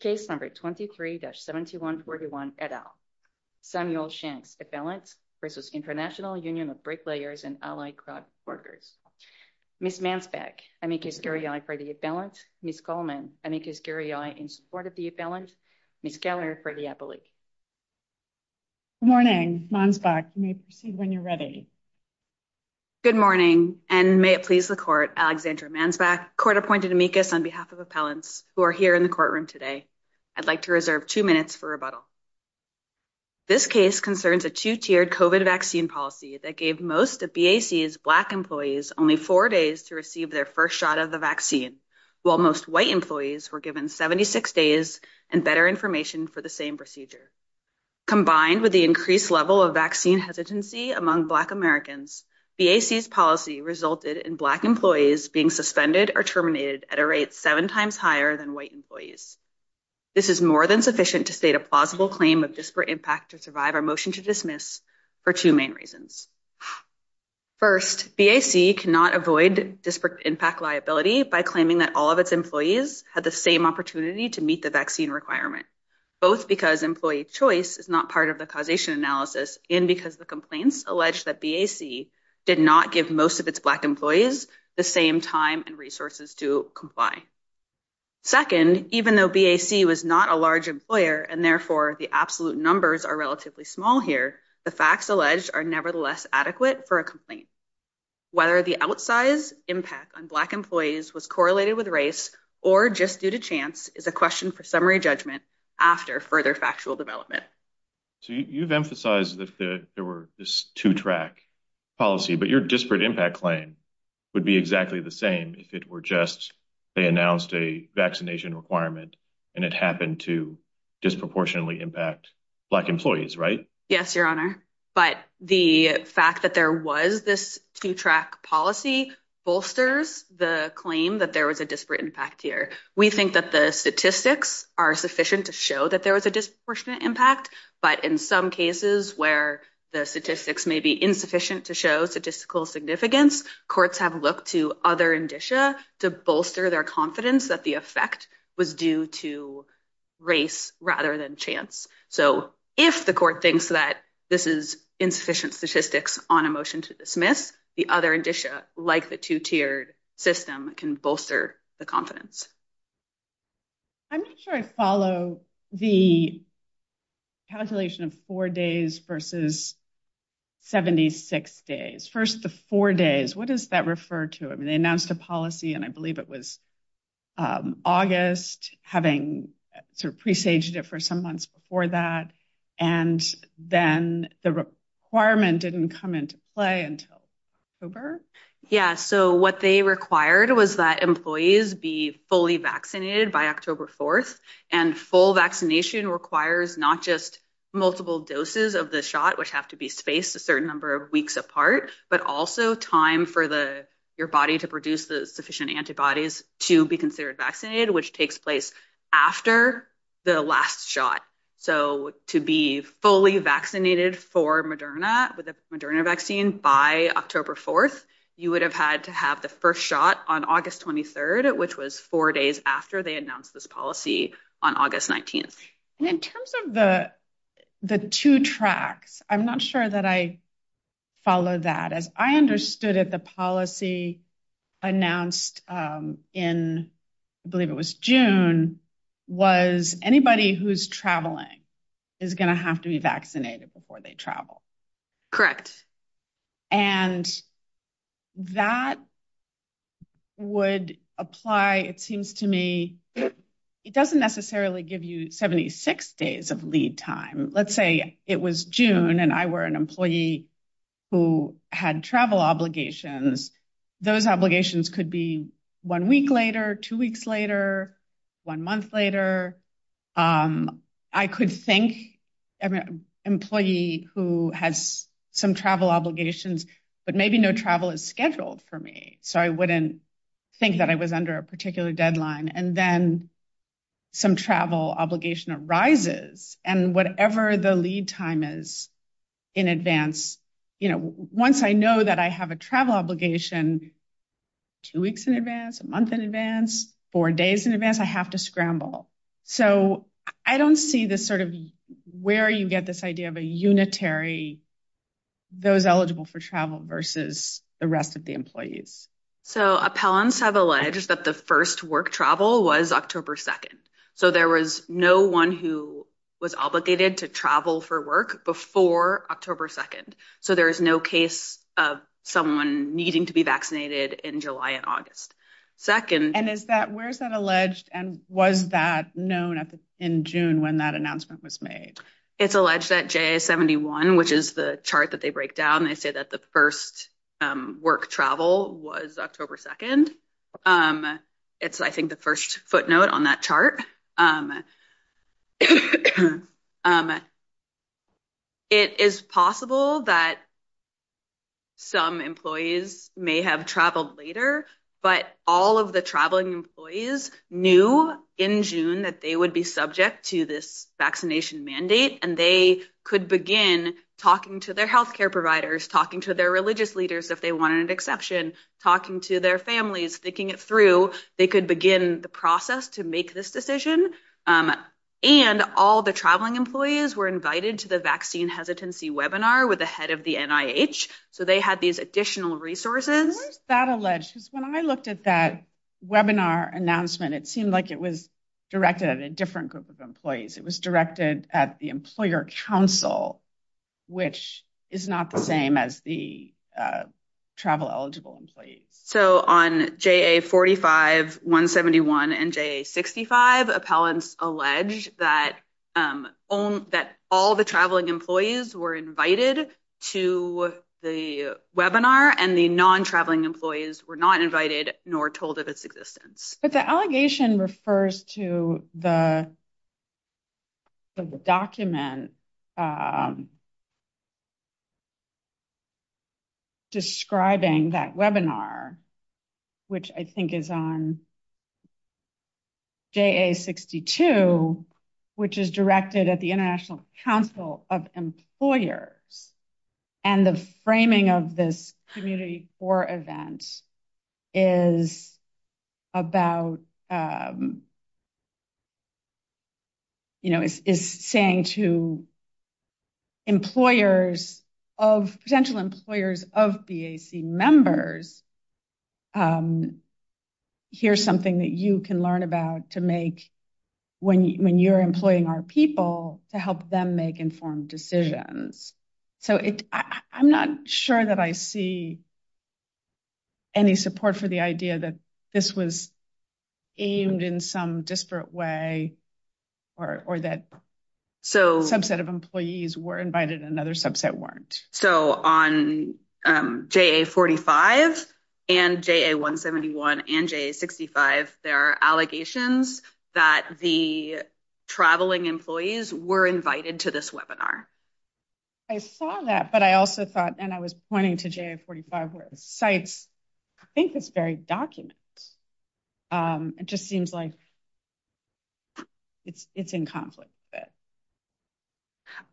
Case number 23-7141, et al. Samuel Shanks, appellant, v. International Union of Bricklayers and Allied Craft Workers. Ms. Mansbach, amicus guriae for the appellant. Ms. Coleman, amicus guriae in support of the appellant. Ms. Keller for the appellate. Good morning. Mansbach, you may proceed when you're ready. Good morning, and may it please the court, Alexandra Mansbach, court-appointed amicus on behalf of appellants who are here in the courtroom today. I'd like to reserve two minutes for rebuttal. This case concerns a two-tiered COVID vaccine policy that gave most of BAC's black employees only four days to receive their first shot of the vaccine, while most white employees were given 76 days and better information for the same procedure. Combined with the increased level of vaccine hesitancy among black Americans, BAC's policy resulted in black employees being suspended or terminated at a rate seven times higher than white employees. This is more than sufficient to state a plausible claim of disparate impact to survive our motion to dismiss for two main reasons. First, BAC cannot avoid disparate impact liability by claiming that all of its employees had the same opportunity to meet the vaccine requirement, both because employee choice is not part of the causation analysis and because the complaints allege that BAC did not give most of its black employees the same time and resources to comply. Second, even though BAC was not a large employer and therefore the absolute numbers are relatively small here, the facts alleged are nevertheless adequate for a complaint. Whether the outsized impact on black employees was correlated with race or just due to chance is a question for judgment after further factual development. So you've emphasized that there were this two-track policy, but your disparate impact claim would be exactly the same if it were just they announced a vaccination requirement and it happened to disproportionately impact black employees, right? Yes, your honor, but the fact that there was this two-track policy bolsters the claim that there was a disparate impact here. We think that the statistics are sufficient to show that there was a disproportionate impact, but in some cases where the statistics may be insufficient to show statistical significance, courts have looked to other indicia to bolster their confidence that the effect was due to race rather than chance. So if the court thinks that this is insufficient statistics on a motion to dismiss, the other indicia like the two-tiered system can bolster the confidence. I'm not sure I follow the calculation of four days versus 76 days. First the four days, what does that refer to? I mean they announced a policy and I believe it was August having sort of pre-staged it for some months before that and then the requirement didn't come into play until October. Yeah, so what they required was that employees be fully vaccinated by October 4th and full vaccination requires not just multiple doses of the shot, which have to be spaced a certain number of weeks apart, but also time for the body to produce the sufficient antibodies to be considered vaccinated, which takes place after the last shot. So to be fully vaccinated for Moderna with the Moderna vaccine by October 4th, you would have had to have the first shot on August 23rd, which was four days after they announced this policy on August 19th. In terms of the two tracks, I'm not sure that I understood it. The policy announced in, I believe it was June, was anybody who's traveling is going to have to be vaccinated before they travel. Correct. And that would apply, it seems to me, it doesn't necessarily give you 76 days of lead time. Let's say it was June and I were an employee who had travel obligations, those obligations could be one week later, two weeks later, one month later. I could think of an employee who has some travel obligations, but maybe no travel is scheduled for me. So I wouldn't think that I was under a particular deadline. And then some travel obligation arises and whatever the lead time is in advance, once I know that I have a travel obligation, two weeks in advance, a month in advance, four days in advance, I have to scramble. So I don't see this sort of where you get this idea of a unitary, those eligible for versus the rest of the employees. So appellants have alleged that the first work travel was October 2nd. So there was no one who was obligated to travel for work before October 2nd. So there is no case of someone needing to be vaccinated in July and August. Second. And is that, where's that alleged? And was that known in June when that announcement was made? It's alleged that July 71, which is the chart that they break down, they say that the first work travel was October 2nd. It's, I think, the first footnote on that chart. It is possible that some employees may have traveled later, but all of the traveling employees knew in June that they would be subject to this vaccination mandate. And they could begin talking to their healthcare providers, talking to their religious leaders, if they wanted exception, talking to their families, sticking it through. They could begin the process to make this decision. And all the traveling employees were invited to the vaccine hesitancy webinar with the head of the NIH. So they had these additional resources. Where's that alleged? When I looked at that webinar announcement, it seemed like it was directed at a different group of employees. It was directed at the employer council, which is not the same as the travel eligible employees. So on JA45-171 and JA65, appellants allege that all the traveling employees were invited to the webinar and the non-traveling employees were not invited nor told of its existence. But the allegation refers to the document describing that webinar, which I think is on JA62, which is directed at the International Council of Employers. And the framing of this community for event is saying to potential employers of BAC members, here's something that you can learn about when you're employing our people to help them make informed decisions. So I'm not sure that I see any support for the idea that this was aimed in some disparate way or that subset of employees were invited and another subset weren't. So on JA45 and JA171 and JA65, there are allegations that the traveling employees were invited to this webinar. I saw that, but I also thought, and I was pointing to JA45 where it cites, I think it's very documented. It just seems like it's in conflict with it.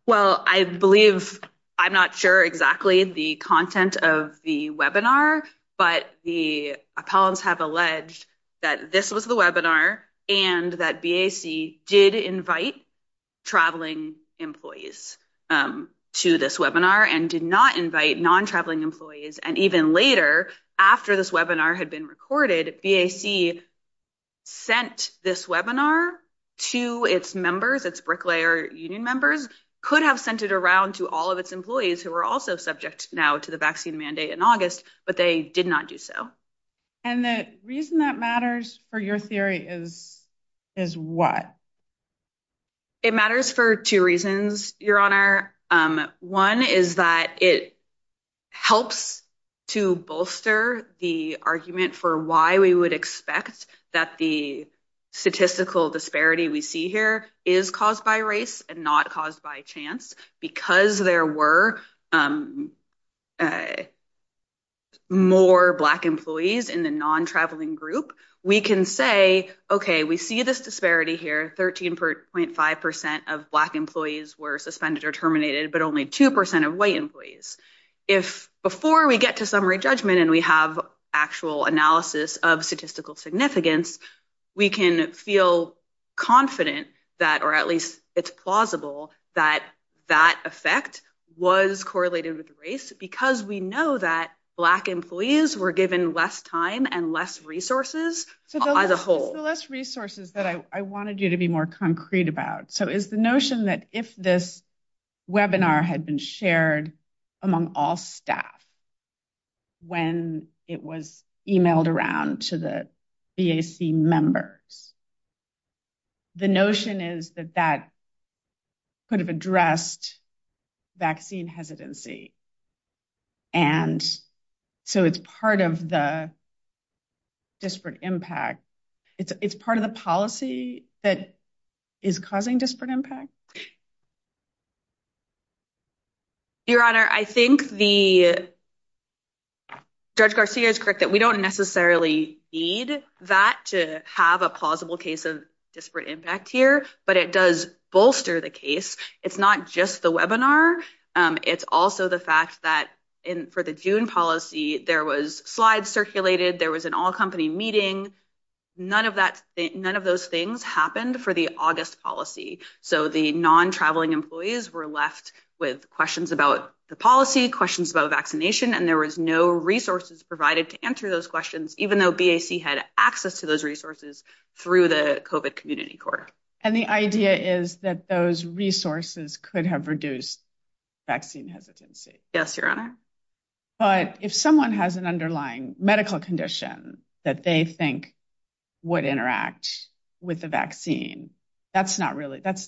Well, I believe, I'm not sure exactly the content of the webinar, but the appellants have alleged that this was the webinar and that BAC did invite traveling employees to this webinar and did not invite non-traveling employees. And even later, after this webinar had been recorded, BAC sent this webinar to its members, its bricklayer union members, could have sent it around to all of its employees who were also subject now to the vaccine mandate in August, but they did not do so. And the reason that matters for your theory is what? It matters for two reasons, Your Honor. One is that it helps to bolster the argument for why we would expect that the statistical disparity we see here is caused by race and not caused by chance. Because there were more black employees in the non-traveling we can say, okay, we see this disparity here. 13.5% of black employees were suspended or terminated, but only 2% of white employees. If before we get to summary judgment and we have actual analysis of statistical significance, we can feel confident that, or at least it's plausible that that effect was correlated with race because we know that black employees were given less time and less resources as a whole. So less resources that I wanted you to be more concrete about. So it's the notion that if this webinar had been shared among all staff when it was emailed around to the BAC members, the notion is that that could have addressed vaccine hesitancy. And so it's part of the policy that is causing disparate impact? Your Honor, I think Judge Garcia is correct that we don't necessarily need that to have a plausible case of disparate impact here, but it does bolster the case. It's not just the webinar. It's also the fact that for the June policy, there was slides circulated. There was an all-company meeting. None of those things happened for the August policy. So the non-traveling employees were left with questions about the policy, questions about vaccination, and there was no resources provided to answer those questions, even though BAC had access to those resources through the COVID community core. And the idea is that those resources could have reduced vaccine hesitancy. Yes, Your Honor. But if someone has an underlying medical condition that they think would interact with the vaccine, that's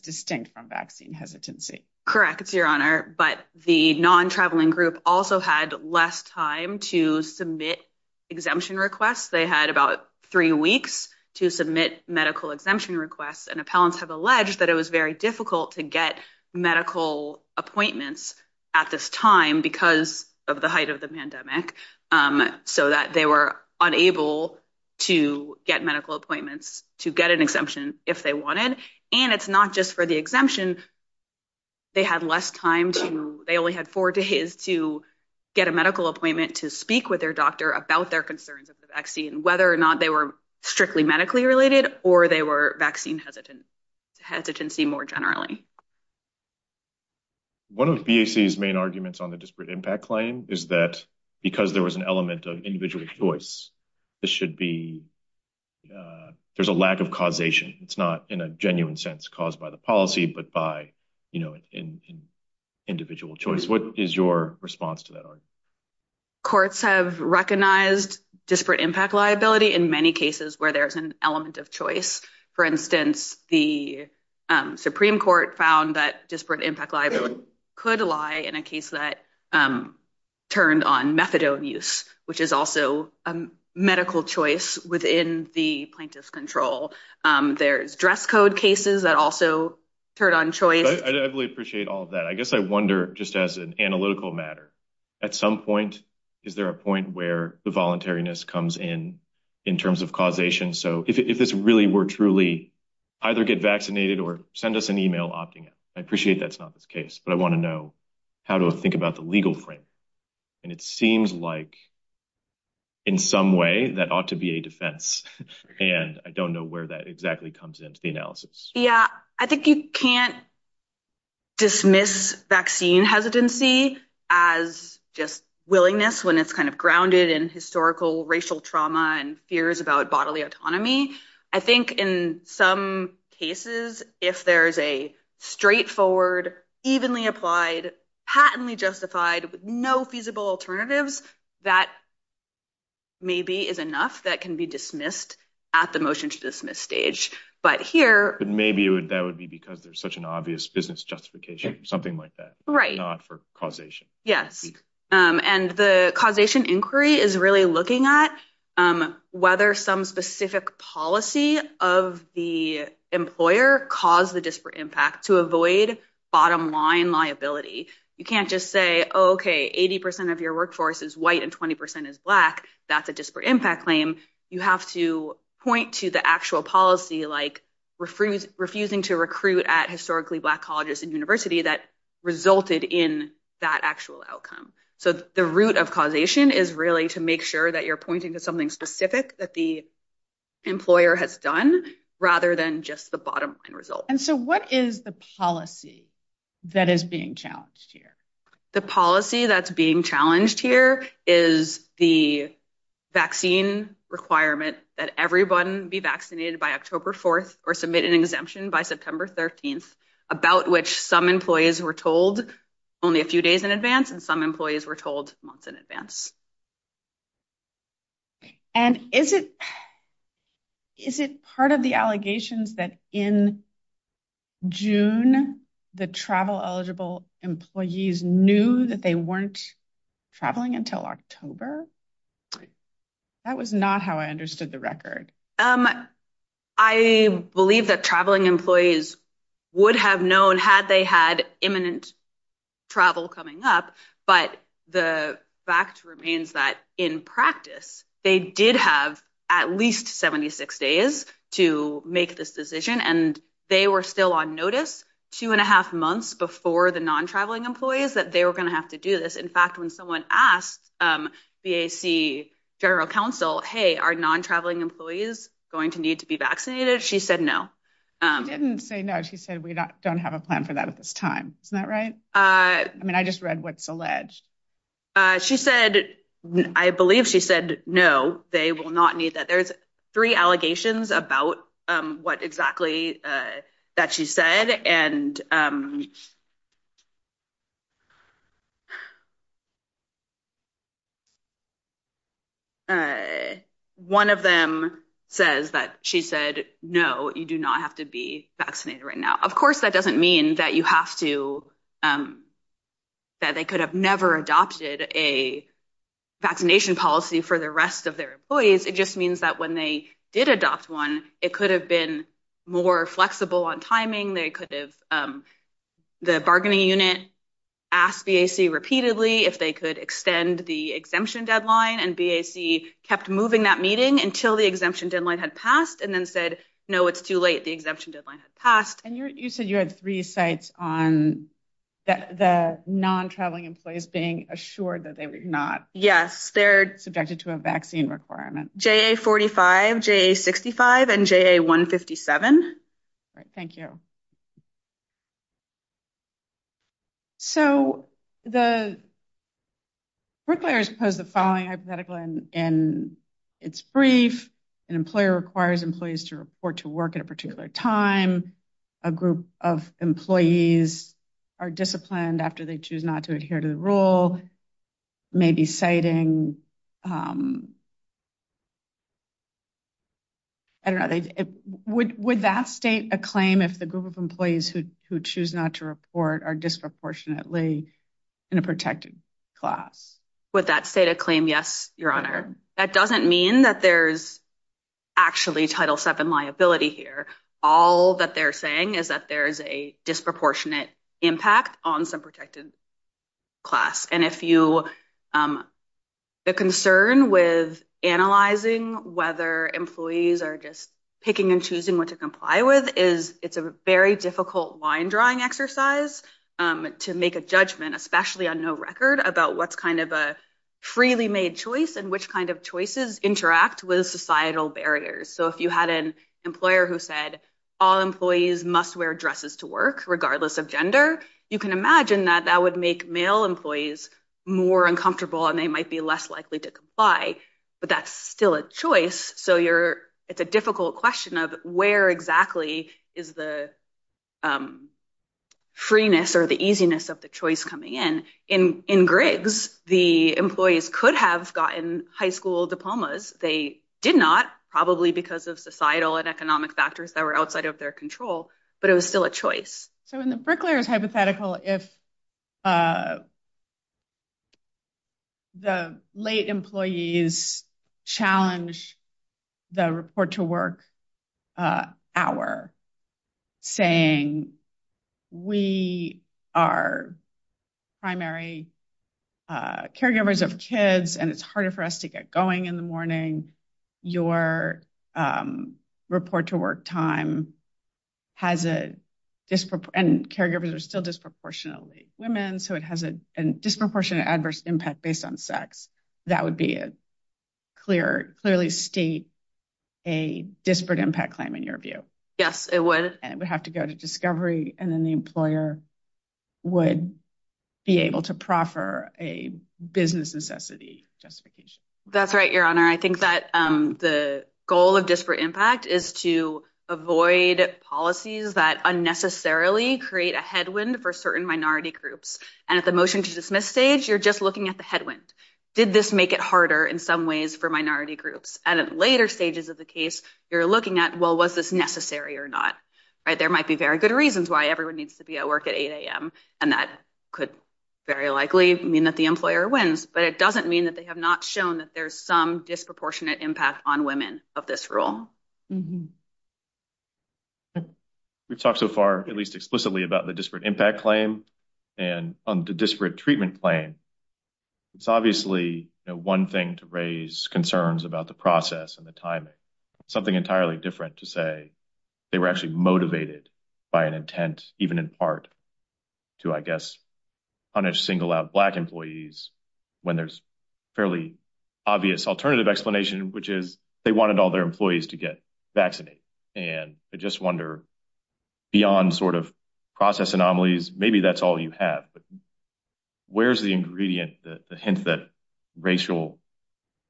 distinct from vaccine hesitancy. Correct, Your Honor. But the non-traveling group also had less time to submit exemption requests. They had about three weeks to submit medical exemption requests, and appellants have alleged that it was very difficult to get medical appointments at this time because of the height of the pandemic, so that they were unable to get medical appointments to get an exemption if they wanted. And it's not just for the exemption. They had less time to... They only had four days to get a medical appointment to speak with their doctor about their concerns of the vaccine, whether or not they were strictly medically related or they were vaccine hesitancy more generally. One of BAC's main arguments on the disparate impact claim is that because there was an element of individual choice, there's a lack of causation. It's not in a genuine sense caused by the policy, but by individual choice. What is your response to that? Courts have recognized disparate impact liability in many cases where there's an element of choice. For instance, the Supreme Court found that disparate impact liability could lie in a case that turned on methadone use, which is also a medical choice within the plaintiff's control. There's dress code cases that also turn on choice. I definitely appreciate all of that. I guess I wonder, just as an analytical matter, at some point, is there a point where the voluntariness comes in, in terms of causation? So if it's really, we're truly either get vaccinated or send us an email opting out. I appreciate that's not the case, but I want to know how to think about the legal frame. And it seems like in some way, that ought to be a defense. And I don't know where that exactly comes into the analysis. Yeah, I think you can't dismiss vaccine hesitancy as just willingness when it's kind of grounded in historical racial trauma and fears about bodily autonomy. I think in some cases, if there's a straightforward, evenly applied, patently justified, with no feasible alternatives, that maybe is enough that can be dismissed at the motion to dismiss stage. But here- But maybe that would be because there's such an obvious business justification, something like that, not for causation. Yes. And the causation inquiry is really looking at whether some specific policy of the employer caused the disparate impact to avoid bottom liability. You can't just say, okay, 80% of your workforce is white and 20% is black. That's a disparate impact claim. You have to point to the actual policy, like refusing to recruit at historically black colleges and university that resulted in that actual outcome. So the root of causation is really to make sure that you're pointing to something specific that the employer has done rather than just the bottom line result. And so what is the policy that is being challenged here? The policy that's being challenged here is the vaccine requirement that everyone be vaccinated by October 4th or submit an exemption by September 13th, about which some employees were told only a few days in advance and some employees were told months in advance. Okay. And is it part of the allegations that in June, the travel eligible employees knew that they weren't traveling until October? That was not how I understood the record. I believe that traveling employees would have known had they had imminent travel coming up, but the fact remains that in practice, they did have at least 76 days to make this decision. And they were still on notice two and a half months before the non-traveling employees that they were going to have to do this. In fact, when someone asked BAC general counsel, hey, are non-traveling employees going to need to be vaccinated? She said, no. She didn't say no. She said, we don't have a plan for that at this time. Is that right? I mean, I just read what's alleged. She said, I believe she said, no, they will not need that. There's three allegations about what exactly that she said. And one of them says that she said, no, you do not have to be vaccinated right now. Of course, that doesn't mean that you have to, that they could have never adopted a vaccination policy for the rest of their employees. It just means that when they did adopt one, it could have been more flexible on timing. They could have, the bargaining unit asked BAC repeatedly if they could extend the exemption deadline and BAC kept moving that meeting until the exemption deadline had passed and then said, no, it's too late. The exemption deadline has passed. And you said you had three sites on the non-traveling employees being assured that they were not. Yes. They're subjected to a vaccine requirement. JA45, JA65, and JA157. All right. Thank you. So the workplace has the following hypothetical and it's brief. An employer requires employees to report to work at a particular time. A group of employees are disciplined after they choose not to adhere to the rule. Maybe citing, I don't know, would that state a claim if the group of employees who choose not to report are disproportionately in a protected class? Would that state a claim? Yes, your honor. That doesn't mean that there's actually Title VII liability here. All that they're saying is that there's a disproportionate impact on some protected class. And if you, the concern with analyzing whether employees are just picking and choosing what to comply with is it's a very difficult line drawing exercise to make a judgment, especially on no record, about what's kind of a freely made choice and which kind of choices interact with societal barriers. So if you had an employer who said, all employees must wear dresses to work, regardless of gender, you can imagine that that would make male employees more uncomfortable and they might be less likely to comply, but that's still a choice. So it's a difficult question of where exactly is the freeness or the easiness of the choice coming in. In grids, the employees could have gotten high school diplomas. They did not, probably because of societal and economic factors that were outside of their control, but it was still a choice. So in the bricklayer's hypothetical, if the late employees challenge the report to work hour, saying we are primary caregivers of kids and it's harder for us to get going in the morning, your report to work time has a, and caregivers are still disproportionately women, so it has a disproportionate adverse impact based on sex. That would be a clear, clearly state a disparate impact claim in your view. Yes, it would. And we'd have to go to discovery and then the employer would be able to proffer a business necessity justification. That's right, Your Honor. I avoid policies that unnecessarily create a headwind for certain minority groups. And at the motion to dismiss stage, you're just looking at the headwind. Did this make it harder in some ways for minority groups? And at later stages of the case, you're looking at, well, was this necessary or not? There might be very good reasons why everyone needs to be at work at 8 a.m. and that could very likely mean that the employer wins, but it doesn't mean that they have not shown that there's some disproportionate impact on women of this role. We've talked so far, at least explicitly, about the disparate impact claim and on the disparate treatment claim. It's obviously one thing to raise concerns about the process and the timing, something entirely different to say they were actually motivated by an intent, even in part, to, I guess, punish single out black employees when there's fairly obvious alternative explanation, which is they wanted all their employees to get vaccinated. And I just wonder, beyond sort of process anomalies, maybe that's all you have, but where's the ingredient that hints that racial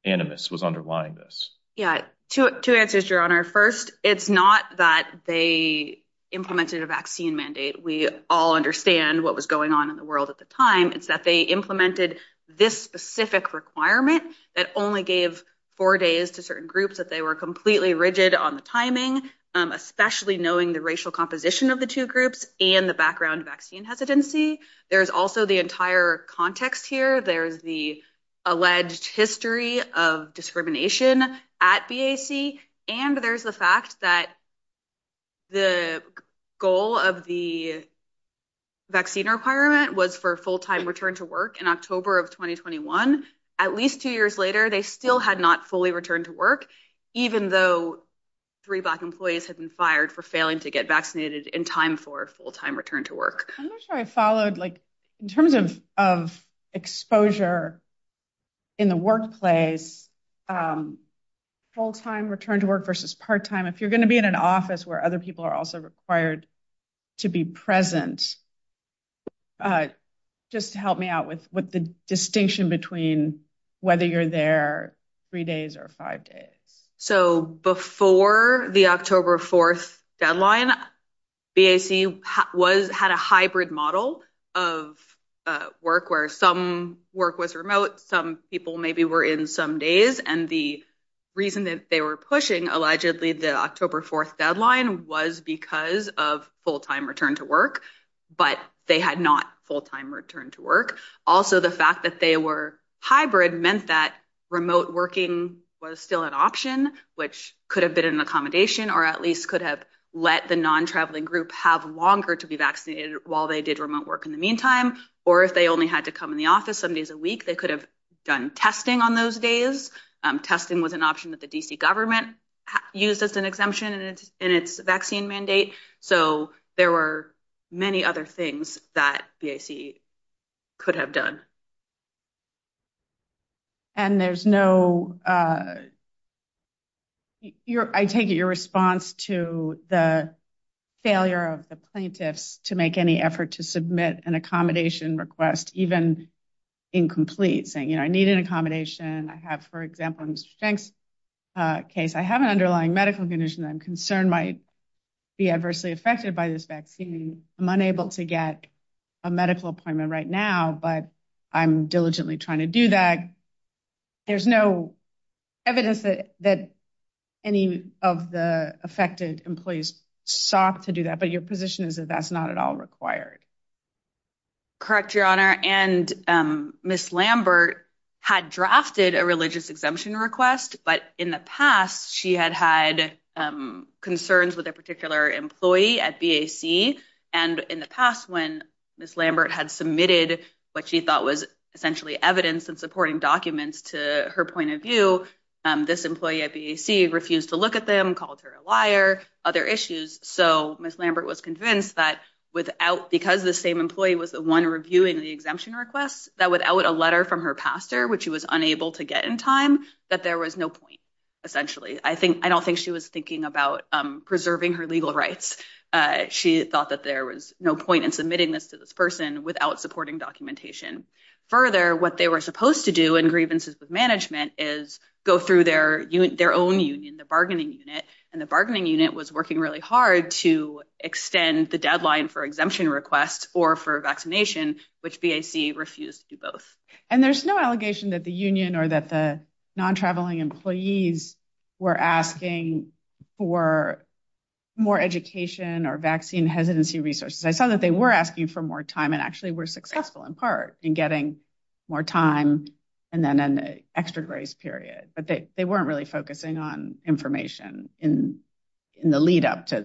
animus was underlying this? Yeah, two answers, Your Honor. First, it's not that they implemented a vaccine mandate. We all understand what was going on in the world at the time. It's that they implemented this specific requirement that only gave four days to certain groups that they were completely rigid on the timing, especially knowing the racial composition of the two groups and the background vaccine hesitancy. There's also the entire context here. There's the alleged history of discrimination at BAC, and there's the fact that the goal of the vaccine requirement was for a full-time return to work in October of 2021. At least two years later, they still had not fully returned to work, even though three black employees had been fired for failing to get vaccinated in time for a full-time return to work. I'm not sure I followed. In terms of exposure in the workplace, full-time return to work versus part-time, if you're going to be in an office where other people are also required to be present, just help me out with the distinction between whether you're there three days or five days. Before the October 4th deadline, BAC had a hybrid model of work where some work was remote, some people maybe were in some days, and the reason that they were pushing allegedly the October 4th deadline was because of full-time return to work, but they had not full-time return to work. Also, the fact that they were hybrid meant that remote working was still an option, which could have been an accommodation or at least could have let the non-traveling group have longer to be vaccinated while they did remote work in the meantime, or if they only had to come in the office some days a week, they could have done testing on those days. Testing was an option that the D.C. government used as an exemption in its vaccine mandate, so there were many other things that BAC could have done. And there's no, I take it, your response to the failure of the plaintiffs to make any effort to submit an accommodation request, even incomplete, saying, I need an accommodation. I have, for example, in Mr. Fink's case, I have an underlying medical condition that I'm concerned might be adversely affected by this vaccine. I'm unable to get a medical appointment right now, but I'm diligently trying to do that. There's no evidence that any of the affected employees sought to do that, but your position is that that's not at all required. Correct, Your Honor, and Ms. Lambert had drafted a religious exemption request, but in the past, she had had concerns with a particular employee at BAC, and in the past, when Ms. Lambert had submitted what she thought was essentially evidence and supporting documents to her point of view, this employee at BAC refused to look at them, called her a liar, other issues, so Ms. Lambert was convinced that without, because the same employee was the one reviewing the exemption request, that without a letter from her pastor, which she was unable to get in time, that there was no point, essentially. I don't think she was thinking about preserving her legal rights. She thought that there was no point in submitting this to this person without supporting documentation. Further, what they were supposed to do in grievances with management is go through their own union, the bargaining unit, and the bargaining unit was working really hard to extend the deadline for exemption request or for vaccination, which BAC refused to do both. There's no allegation that the union or that the non-traveling employees were asking for more education or vaccine hesitancy resources. I thought that they were asking for more time and actually were successful in part in getting more time and then an extra grace period, but they weren't really focusing on information in the lead up to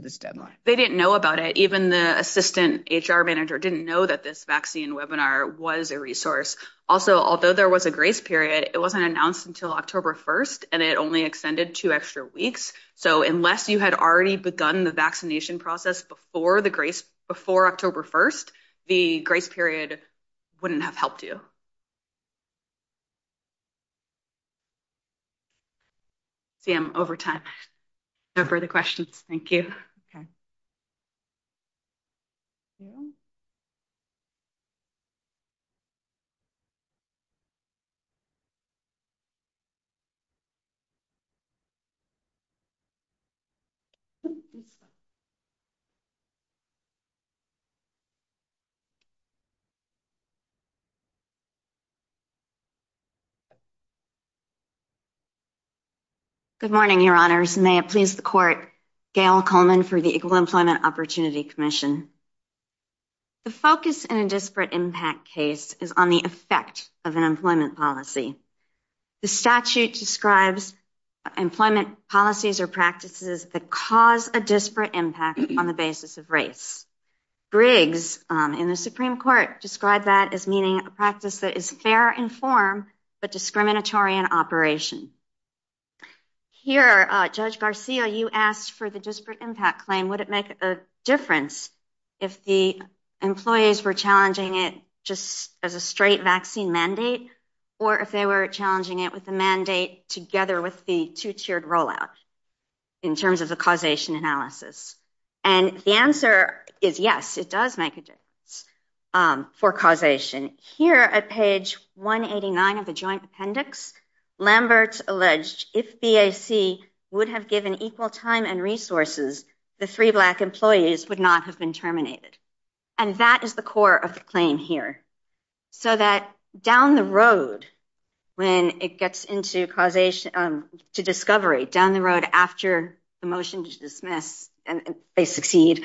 this deadline. They didn't know about it. Even the assistant HR manager didn't know that this vaccine webinar was a resource. Also, although there was a grace period, it wasn't announced until October 1st and it only extended two extra weeks, so unless you had already begun the process before October 1st, the grace period wouldn't have helped you. I see I'm over time. No further questions. Thank you. Good morning, your honors. May it please the court, Gail Coleman for the Equal Employment Opportunity Commission. The focus in a disparate impact case is on the effect of an employment policy. The statute describes employment policies or practices that cause a disparate impact on the basis of race. Briggs in the Supreme Court described that as meaning a practice that is fair and form, but discriminatory in operation. Here, Judge Garcia, you asked for the disparate impact claim. Would it make a difference if the employees were challenging it just as a straight vaccine mandate or if they were challenging it with a mandate together with the two-tiered rollout in terms of the causation analysis? And the answer is yes, it does make a difference for causation. Here at page 189 of the joint appendix, Lambert alleged if BAC would have given equal time and resources, the three black employees would not have been terminated. And that is the core of the claim here. So that down the road when it gets into discovery, down the road after the motion to dismiss and they succeed,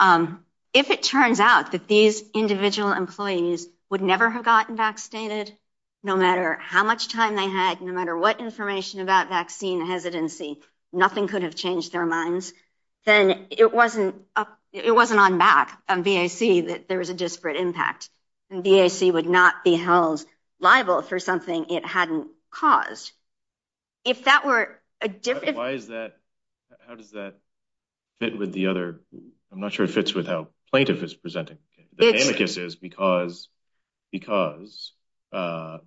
if it turns out that these individual employees would never have gotten vaccinated, no matter how much time they had, no matter what information about vaccine hesitancy, nothing could have changed their minds, then it wasn't on back of BAC that there was a disparate impact. And BAC would not be held liable for something it hadn't caused. If that were a difference... Why is that? How does that fit with the other... I'm not sure it fits with how plaintiff is presenting. The plaintiff is because the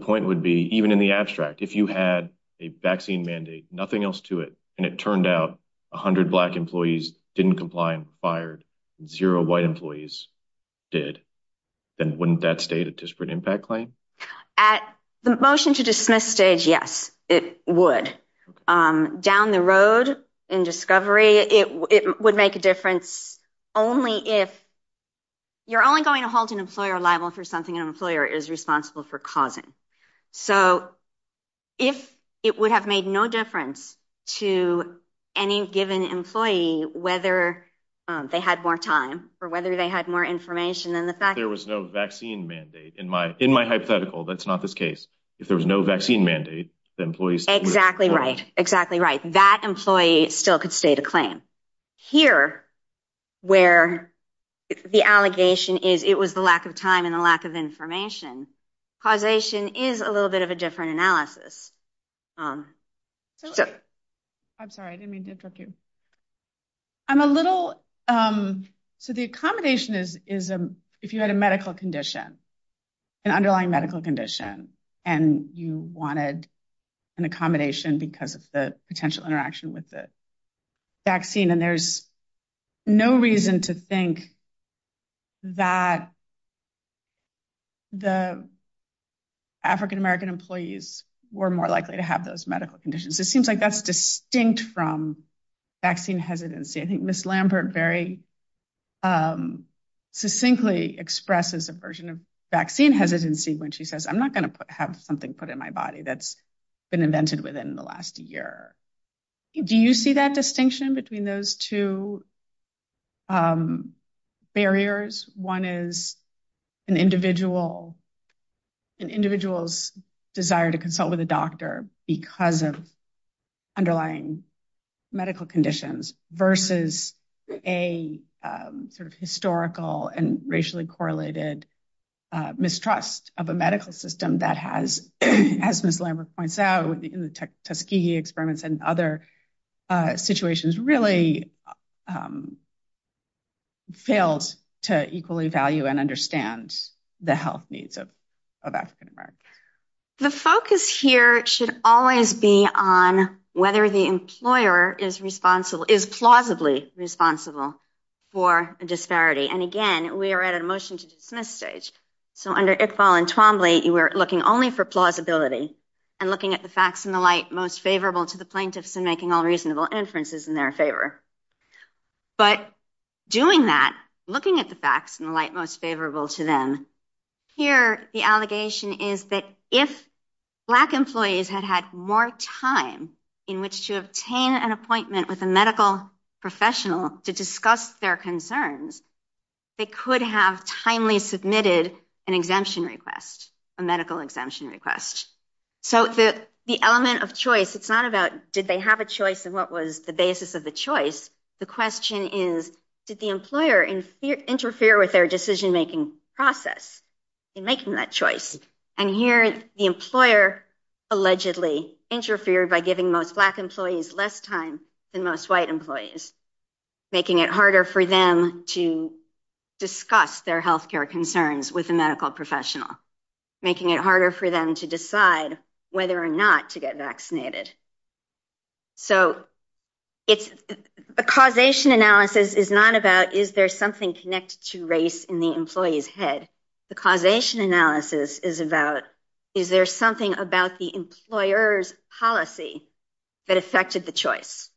point would be, even in the abstract, if you had a vaccine mandate, nothing else to it, and it turned out 100 black employees didn't comply and were fired, zero white employees did, then wouldn't that state a disparate impact claim? At the motion to dismiss stage, yes, it would. Down the road in discovery, it would make a difference only if... You're only going to hold an employer liable for something an employer is responsible for causing. So if it would have made no difference to any given employee, whether they had more time or whether they had more information than the fact... There was no vaccine mandate. In my hypothetical, that's not the case. If there was no vaccine mandate, the employees... Exactly right. Exactly right. That employee still could state a claim. Here, where the allegation is it was the lack of time and lack of information, causation is a little bit of a different analysis. I'm sorry, I didn't mean to interrupt you. I'm a little... So the accommodation is if you had a medical condition, an underlying medical condition, and you wanted an accommodation because of the potential interaction with the vaccine, and there's no reason to think that the African-American employees were more likely to have those medical conditions, it seems like that's distinct from vaccine hesitancy. I think Ms. Lambert very succinctly expresses a version of vaccine hesitancy when she says, I'm not going to have something put in my body that's been invented within the last year. Do you see that distinction between those two barriers? One is an individual's desire to consult with a doctor because of underlying medical conditions versus a historical and racially correlated mistrust of a medical system that has, as Ms. Lambert points out, the Tuskegee experiments and other situations really failed to equally value and understand the health needs of African-Americans. The focus here should always be on whether the employer is plausibly responsible for a disparity. Again, we are at a motion to dismiss stage. So under Iqbal and Twombly, you were looking only for plausibility and looking at the facts in the light most favorable to the plaintiffs and making all reasonable inferences in their favor. But doing that, looking at the facts in the light most favorable to them, here the allegation is that if Black employees had had more time in which to obtain an appointment with a medical professional to discuss their concerns, they could have timely submitted an exemption request, a medical exemption request. So the element of choice, it's not about did they have a choice and what was the basis of the choice. The question is did the employer interfere with their decision-making process in making that choice? And here the employer allegedly interfered by giving most Black employees less time than most employees, making it harder for them to discuss their health care concerns with a medical professional, making it harder for them to decide whether or not to get vaccinated. So a causation analysis is not about is there something connected to race in the employee's head. The causation analysis is about is there something about the employer's policy that affected the choice.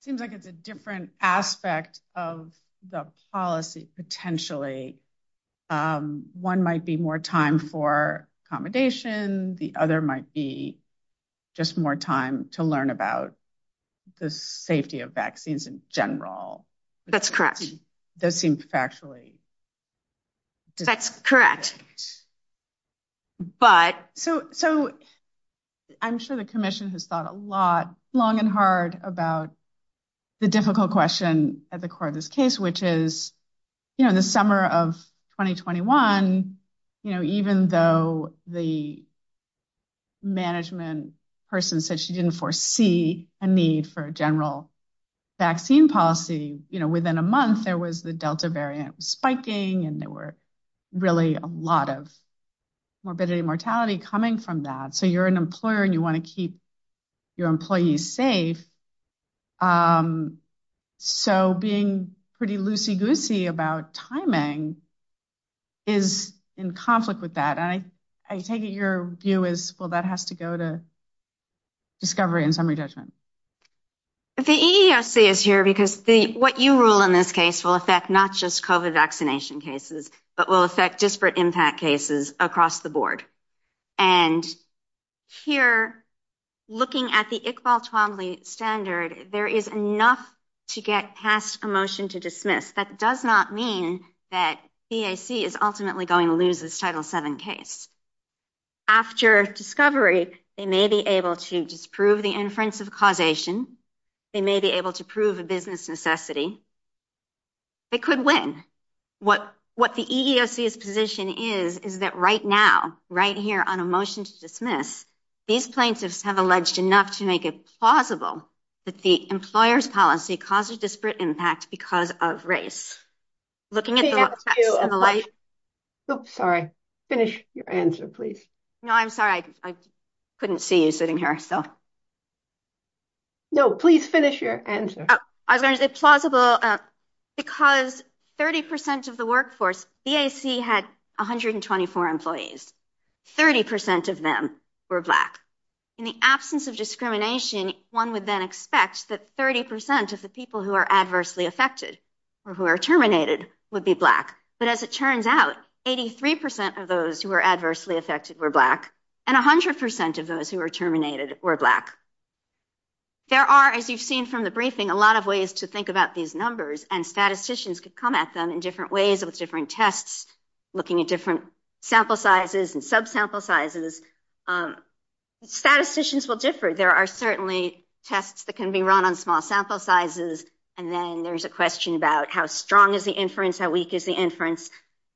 It seems like it's a different aspect of the policy potentially. One might be more time for accommodation, the other might be just more time to learn about the safety of vaccines in general. That's correct. That seems factually. That's correct. So I'm sure the commission has thought a lot, long and hard about the difficult question at the core of this case, which is the summer of 2021, even though the management person said she didn't foresee a need for a general vaccine policy, within a month there was the Delta variant spiking and there were really a lot of morbidity and mortality coming from that. So you're an employer and you want to keep your employees safe. So being pretty loosey-goosey about timing is in conflict with that. I take it your view is, well, that has to go to discovery and summary judgment. The EESC is here because what you rule on this case will not just affect COVID vaccination cases, but will affect disparate impact cases across the board. And here, looking at the Iqbal Twombly standard, there is enough to get passed a motion to dismiss. That does not mean that EAC is ultimately going to lose this Title VII case. After discovery, they may be able to disprove the inference of causation, they may be able to prove a business necessity. They could win. What the EESC's position is, is that right now, right here on a motion to dismiss, these plaintiffs have alleged enough to make it plausible that the employer's policy causes disparate impact because of race. I'm sorry, I couldn't see you sitting here. No, please finish your answer. It's plausible because 30% of the workforce, EAC had 124 employees. 30% of them were black. In the absence of discrimination, one would then expect that 30% of the people who are adversely affected or who are terminated would be black. But as it turns out, 83% of those who were adversely affected were black, and 100% of those who were terminated were black. There are, as you've seen from the briefing, a lot of ways to think about these numbers, and statisticians could come at them in different ways with different tests, looking at different sample sizes and subsample sizes. Statisticians will differ. There are tests that can be run on small sample sizes, and then there's a question about how strong is the inference, how weak is the inference.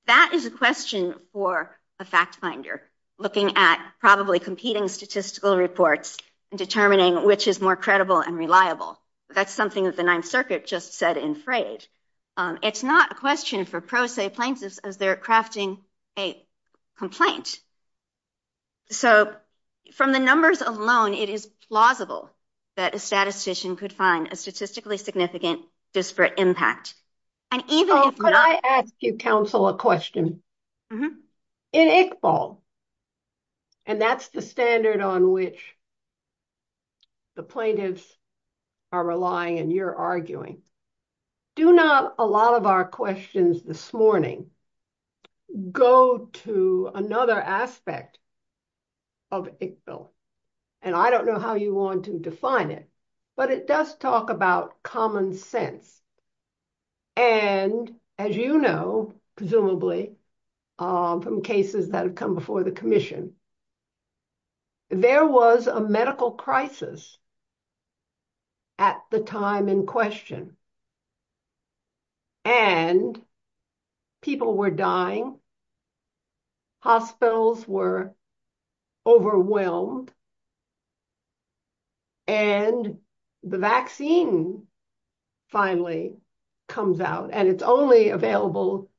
That is a question for a fact finder, looking at probably competing statistical reports and determining which is more credible and reliable. That's something that the Ninth Circuit just said in Frey's. It's not a question for pro se plaintiffs as they're crafting a complaint. So, from the numbers alone, it is plausible that a statistician could find a statistically significant disparate impact. Could I ask you, counsel, a question? In Iqbal, and that's the standard on which the plaintiffs are relying and you're arguing, do not a lot of our questions this morning go to another aspect of Iqbal. And I don't know how you want to define it, but it does talk about common sense. And as you know, presumably, from cases that have come before the commission, there was a medical crisis at the time in question. And people were dying. Hospitals were overwhelmed. And the vaccine finally comes out. And it's only available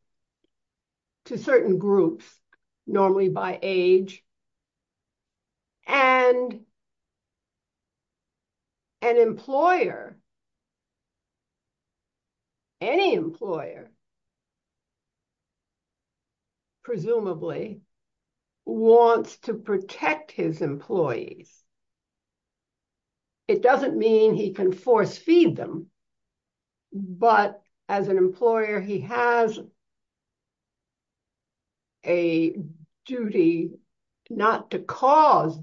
to certain groups, normally by age. And an employer, any employer, presumably, wants to protect his employees. It doesn't mean he can force feed them. But as an employer, he has a duty not to cause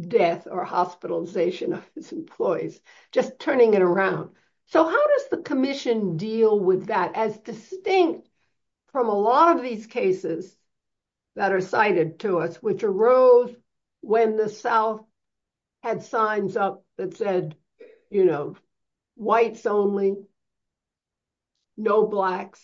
death or hospitalization of his employees, just turning it around. So, how does the commission deal with that as distinct from a lot of these cases that are cited to us, which arose when the South had signs up that said, you know, whites only, no blacks.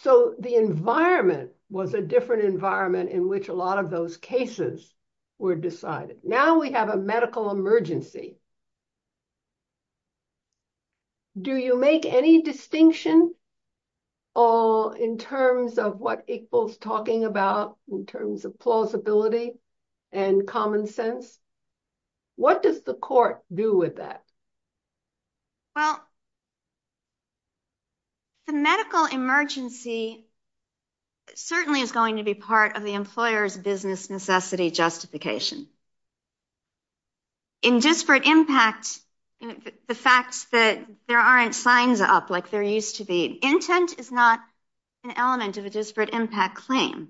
So, the environment was a different environment in which a lot of those cases were decided. Now we have a medical emergency. Do you make any distinction in terms of what Iqbal's talking about, in terms of plausibility and common sense? What does the court do with that? Well, the medical emergency certainly is going to be part of the employer's business necessity justification. In disparate impact, the fact that there aren't signs up like there used to be, intent is not an element of a disparate impact claim.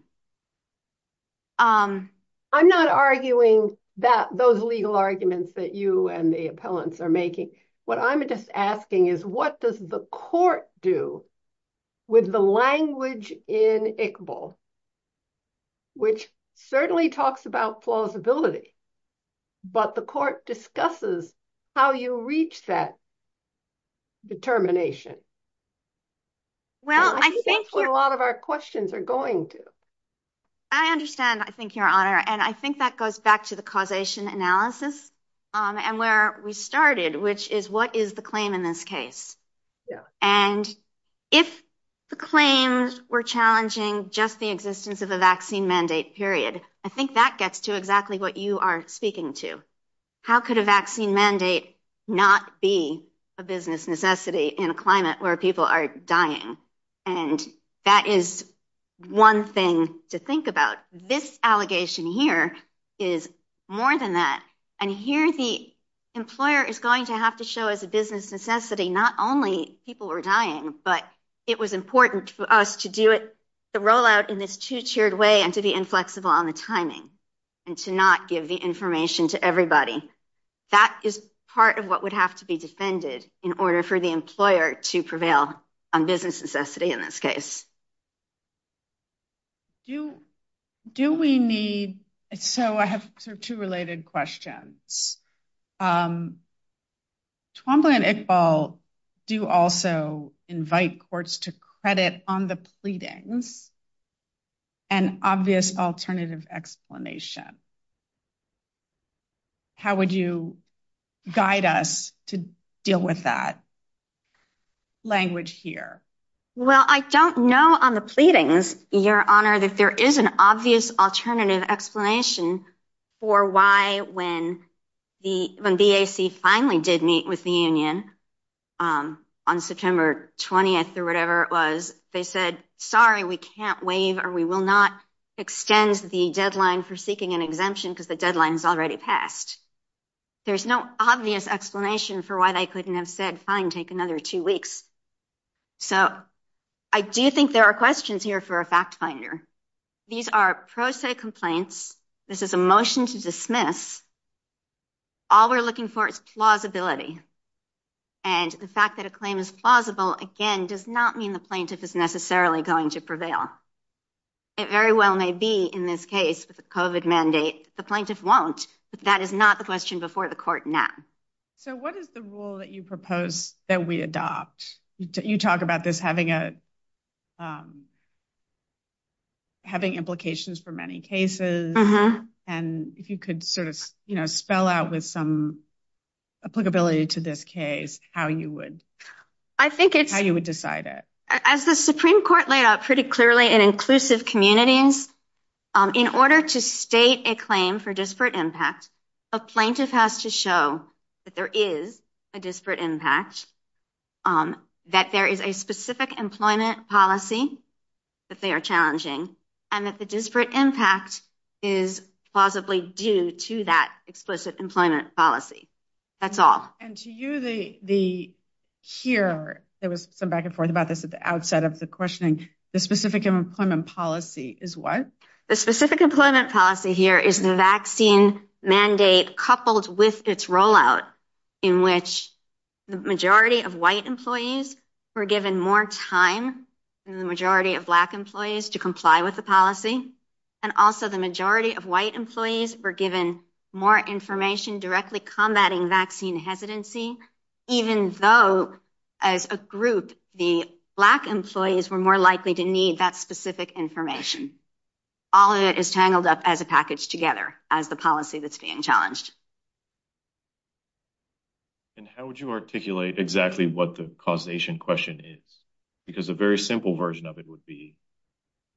I'm not arguing those legal arguments that you and the appellants are making. What I'm just is what does the court do with the language in Iqbal, which certainly talks about plausibility, but the court discusses how you reach that determination. Well, I think that's what a lot of our questions are going to. I understand, I think, Your Honor, and I think that goes back to the causation analysis and where we started, which is what is the claim in this case? And if the claims were challenging just the existence of a vaccine mandate period, I think that gets to exactly what you are speaking to. How could a vaccine mandate not be a business necessity in a climate where people are dying? And that is one thing to think about. This allegation here is more than that. And here the employer is going to have to show as a business necessity, not only people are dying, but it was important for us to do the rollout in this two-tiered way and to be inflexible on the timing and to not give the information to everybody. That is part of what would have to be defended in order for the employer to prevail on business necessity in this case. Do we need, so I have two related questions. Twombly and Iqbal do also invite courts to credit on the pleadings an obvious alternative explanation. How would you guide us to deal with that? Language here. Well, I don't know on the pleadings, Your Honor, that there is an obvious alternative explanation for why when the DAC finally did meet with the union on September 20th or whatever it was, they said, sorry, we can't waive or we will not extend the deadline for seeking an exemption because the deadline has already passed. There's no obvious explanation for why they couldn't have said, fine, take another two weeks. So I do think there are questions here for a fact finder. These are pro se complaints. This is a motion to dismiss. All we're looking for is plausibility. And the fact that a claim is plausible, again, does not mean the plaintiff is necessarily going to prevail. It very well may be in this case, with the COVID mandate, the plaintiff won't, but that is not the question before the court now. So what is the rule that you propose that we adopt? You talk about this having implications for many cases and if you could sort of spell out with some applicability to this case, how you would decide it. As the Supreme Court laid out pretty clearly in inclusive communities, in order to state a claim for disparate impact, a plaintiff has to show that there is a disparate impact, that there is a specific employment policy that they are challenging, and that the disparate impact is plausibly due to that explicit employment policy. That's all. And to you, here, there was some back and forth about this at the outset of the questioning. The specific employment policy is what? The specific employment policy here is the vaccine mandate coupled with its rollout in which the majority of white employees were given more time than the majority of black employees to comply with the policy. And also the majority of white employees were given more information directly combating vaccine hesitancy, even though as a group, the black employees were likely to need that specific information. All of it is tangled up as a package together, as the policy that's being challenged. And how would you articulate exactly what the causation question is? Because a very simple version of it would be,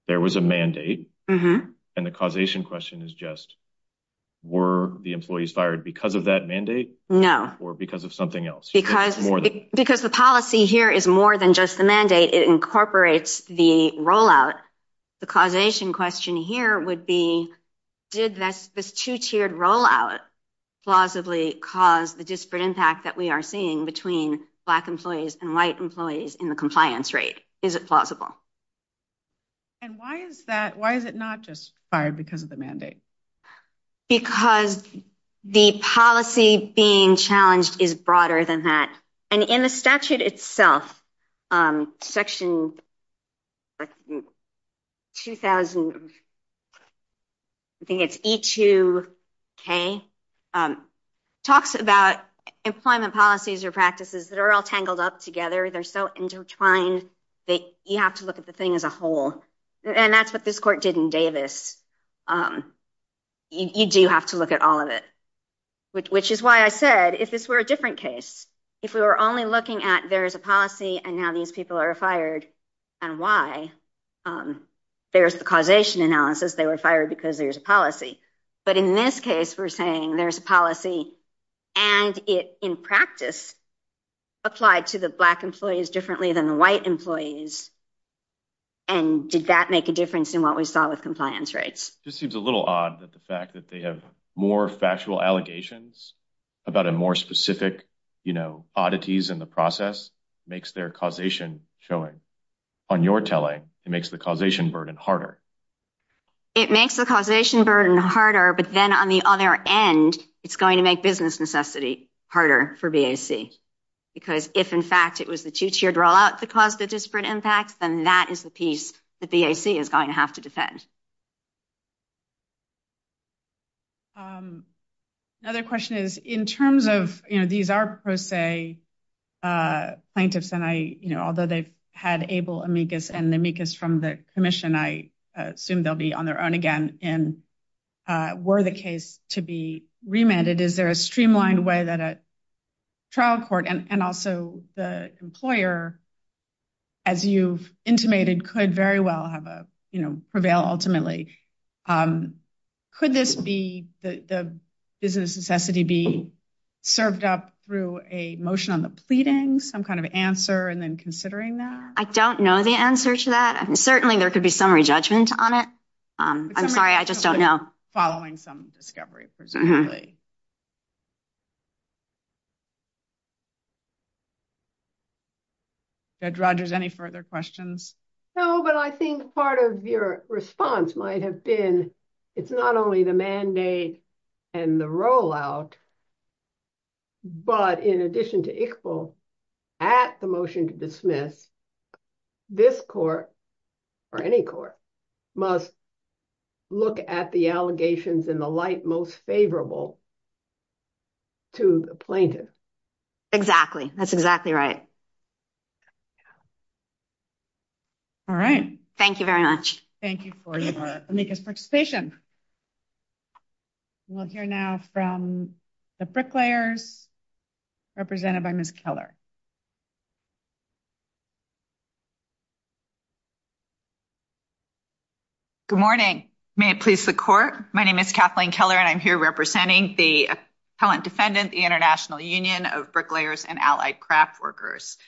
there was a mandate and the causation question is just, were the employees fired because of that mandate? No. Or because of something else? Because the policy here is more than just the mandate. It incorporates the rollout. The causation question here would be, did this two-tiered rollout plausibly cause the disparate impact that we are seeing between black employees and white employees in the compliance rate? Is it plausible? And why is it not just fired because of the mandate? Because the policy being challenged is broader than that. And in the statute itself, section 2000, I think it's E2K, talks about employment policies or practices that are all tangled up together. They're so intertwined that you have to look at the thing as a whole. And that's what this court did in Davis. You do have to look at all of it. Which is why I said, if it were a different case, if we were only looking at there is a policy and now these people are fired and why, there's the causation analysis, they were fired because there's a policy. But in this case, we're saying there's a policy and it, in practice, applied to the difference in what we saw with compliance rates. It just seems a little odd that the fact that they have more factual allegations about a more specific oddities in the process makes their causation showing. On your telling, it makes the causation burden harder. It makes the causation burden harder, but then on the other end, it's going to make business necessity harder for BAC. Because if in fact it was the two-tiered to cause the disparate impacts, then that is the piece that BAC is going to have to defend. Another question is, in terms of, these are pro se plaintiffs and I, although they've had able amicus and the amicus from the commission, I assume they'll be on their own again. And were the case to be remanded, is there a streamlined way that a trial court and also the employer, as you've intimated, could very well prevail ultimately? Could the business necessity be served up through a motion on the pleading, some kind of answer, and then considering that? I don't know the answer to that. Certainly there could be some re-judgment on it. I'm sorry, I just don't know. Following some discovery, presumably. Judge Rodgers, any further questions? No, but I think part of your response might have been, it's not only the mandate and the rollout, but in addition to ICFL, at the motion to dismiss, this court, or any court, must look at the allegations in the light most favorable to the plaintiff. Exactly. That's exactly right. All right. Thank you very much. Thank you for the amicus participation. We'll hear now from the bricklayers, represented by Ms. Keller. Good morning. May it please the court? My name is Kathleen Keller and I'm here representing the Appellant Defendant, the International Union of Bricklayers and Allied Craft Workers.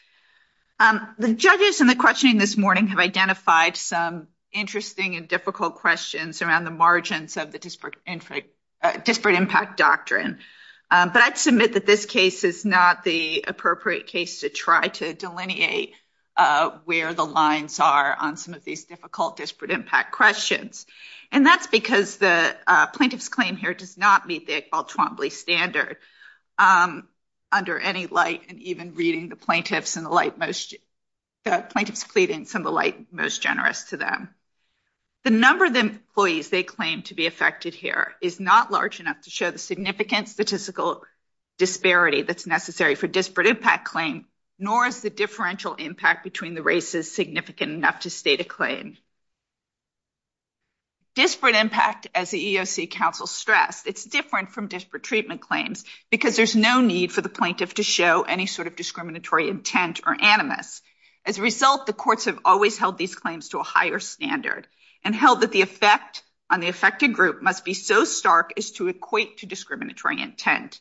The judges in the questioning this morning have identified some interesting and difficult questions around the margins of the disparate impact doctrine, but I'd submit that this case is not the appropriate case to try to delineate where the lines are on some of these difficult disparate impact questions, and that's because the plaintiff's claim here does not meet the standard under any light, and even reading the plaintiff's pleadings in the light most generous to them. The number of employees they claim to be affected here is not large enough to show the significant statistical disparity that's necessary for disparate impact claims, nor is the differential impact between the races significant enough to state a claim. Disparate impact, as the EEOC counsel stressed, it's different from disparate treatment claims because there's no need for the plaintiff to show any sort of discriminatory intent or animus. As a result, the courts have always held these claims to a higher standard and held that the effect on the affected group must be so stark as to equate to discriminatory intent.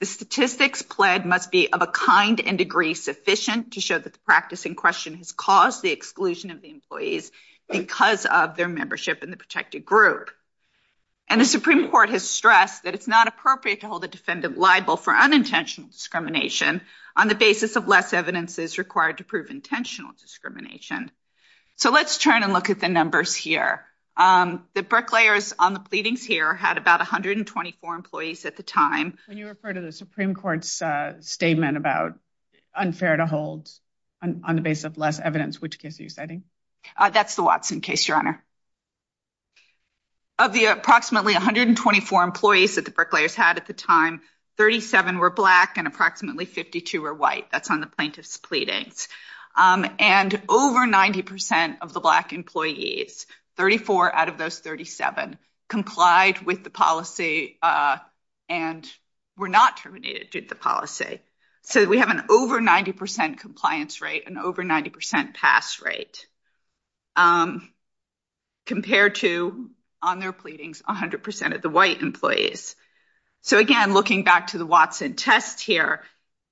The statistics pled must be of a kind and degree sufficient to show that the practice in question has caused the exclusion of the employees because of their membership in the protected group, and the Supreme Court has stressed that it's not appropriate to hold a defendant liable for unintentional discrimination on the basis of less evidence is required to prove intentional discrimination. So let's turn and look at the numbers here. The Brooklayers on the pleadings here had about 124 employees at the time. When you refer to the Supreme Court's statement about unfair to hold on the basis of less evidence, which case are you citing? That's the Watson case, Your Honor. Of the approximately 124 employees that the Brooklayers had at the time, 37 were black and approximately 52 were white. That's on the plaintiff's pleading. And over 90% of the black employees, 34 out of those 37, complied with the policy and were not terminated due to the policy. So we have an over 90% compliance rate and over 90% pass rate compared to, on their pleadings, 100% of the white employees. So again, looking back to the Watson test here,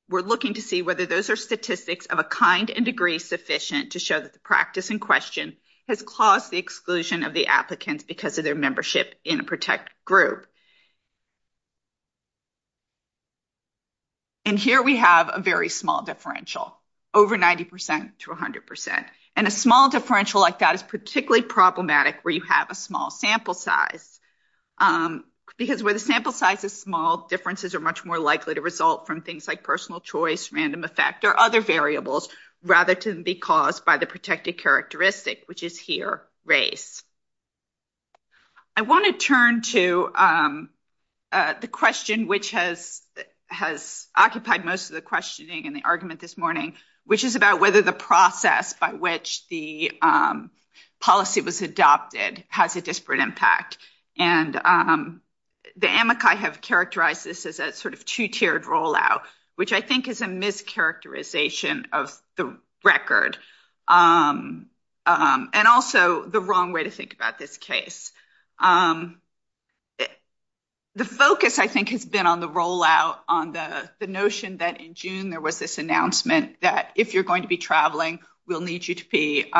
we're looking to see whether those are statistics of a kind and degree sufficient to show that the practice in question has caused the exclusion of the applicants because of their membership in a protected group. And here we have a very small differential, over 90% to 100%. And a small differential like that is particularly problematic where you have a small sample size. Because where the sample size is small, differences are much more likely to result from things like personal choice, random effect, or other variables rather than be caused by the protected characteristic, which is here, race. I want to turn to the question which has occupied most of the questioning and the argument this morning, which is about whether the process by which the policy was adopted has a disparate impact. And the Amici have characterized this as a sort of two tiered rollout, which I think is a mischaracterization of the record. And also the wrong way to think about this case. The focus, I think, has been on the rollout, on the notion that in June there was this announcement that if you're going to be traveling, we'll need you to be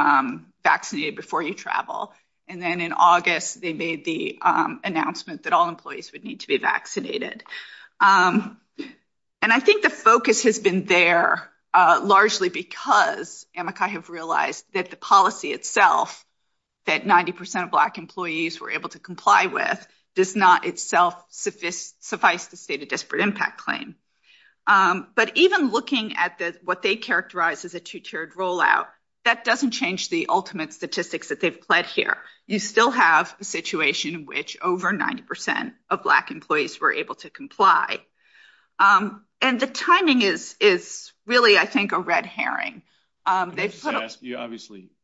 vaccinated before you travel. And then in August, they made the announcement that all employees would need to be vaccinated. And I think the focus has been there largely because Amici have realized that the policy itself, that 90% of black employees were able to comply with, does not itself suffice to state a disparate impact claim. But even looking at what they characterize as a two tiered rollout, that doesn't change the ultimate statistics that they've pledged here. You still have a situation in which over 90% of black employees were able to comply. And the timing is really, I think, a red herring.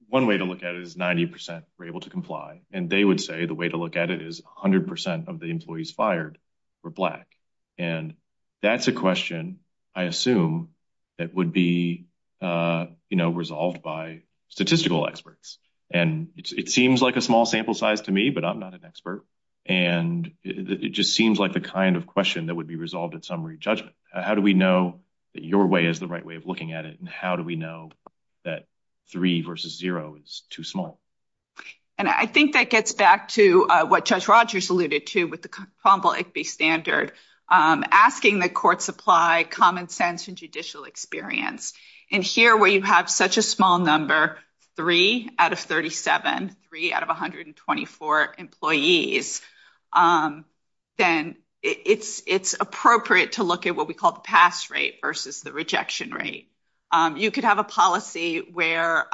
One way to look at it is 90% were able to comply. And they would say the way to look at it is 100% of the employees fired were black. And that's a question I assume that would be resolved by statistical experts. And it seems like a small sample size to me, I'm not an expert. And it just seems like the kind of question that would be resolved at summary judgment. How do we know that your way is the right way of looking at it? And how do we know that three versus zero is too small? And I think that gets back to what Judge Rogers alluded to with the Cromwell-Igby standard, asking the courts apply common sense and judicial experience. And here where you have such a small number, three out of 37, three out of 124 employees, then it's appropriate to look at what we call the pass rate versus the rejection rate. You could have a policy where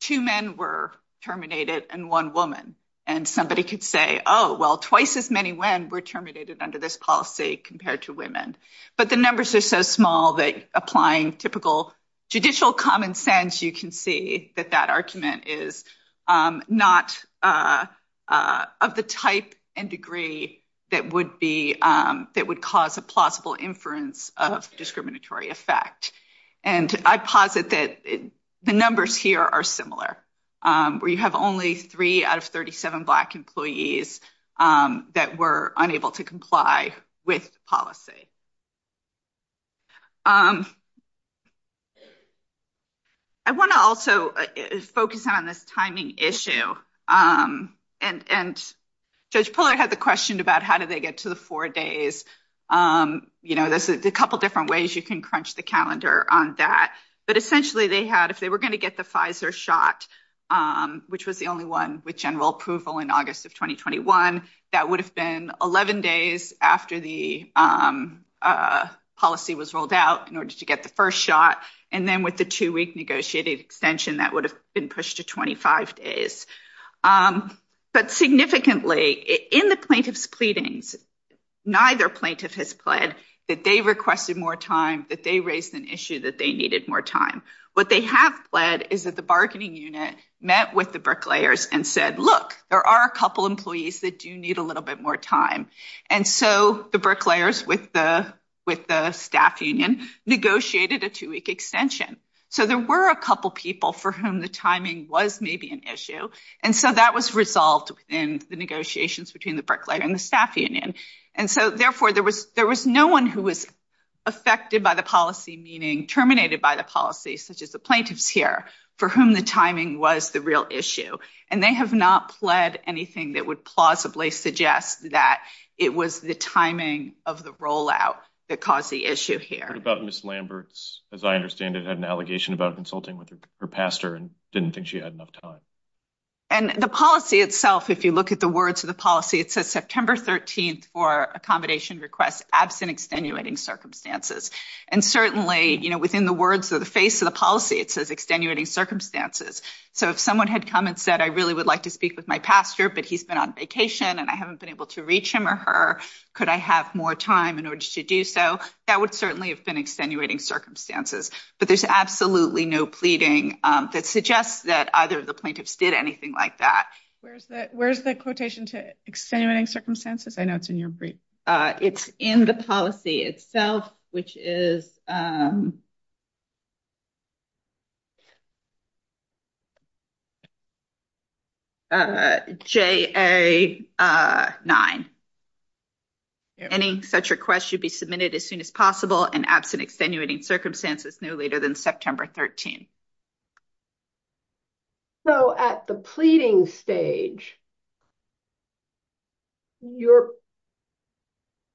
two men were terminated and one woman. And somebody could say, oh, well, twice as many men were terminated under this policy compared to women. But the numbers are so small that applying typical judicial common sense, you can see that that argument is not of the type and degree that would cause a plausible inference of discriminatory effect. And I posit that the numbers here are similar, where you have only three out of 37 black employees that were unable to comply with policy. I want to also focus on this timing issue. And Judge Pollard had the question about how do they get to the four days? You know, there's a couple different ways you can crunch the calendar on that. But essentially, they had, if they were going to get the Pfizer shot, which was the only one with general approval in August of 2021, that would have been 11 days after the policy was rolled out in order to get the first shot. And then with the two-week negotiated extension, that would have been pushed to 25 days. But significantly, in the plaintiff's pleadings, neither plaintiff has pled that they requested more time, that they raised an issue that they needed more time. What they have pled is that the bargaining unit met with the bricklayers and said, look, there are a couple employees that do need a little bit more time. And so the bricklayers with the staff union negotiated a two-week extension. So there were a couple people for whom the timing was maybe an issue. And so that was resolved in the negotiations between the bricklayer and the affected by the policy, meaning terminated by the policy, such as the plaintiffs here, for whom the timing was the real issue. And they have not pled anything that would plausibly suggest that it was the timing of the rollout that caused the issue here. About Ms. Lambert's, as I understand it, had an allegation about consulting with her pastor and didn't think she had enough time. And the policy itself, if you look at the words of the policy, it says September 13th for accommodation requests absent extenuating circumstances. And certainly, within the words of the face of the policy, it says extenuating circumstances. So if someone had come and said, I really would like to speak with my pastor, but he's been on vacation and I haven't been able to reach him or her, could I have more time in order to do so? That would certainly have been extenuating circumstances. But there's absolutely no pleading that suggests that either of the plaintiffs did anything like that. Where's the quotation to extenuating circumstances? I know it's in your brief. It's in the policy itself, which is JA 9. Any such request should be submitted as soon as possible and absent extenuating circumstances no later than September 13th. So at the pleading stage, your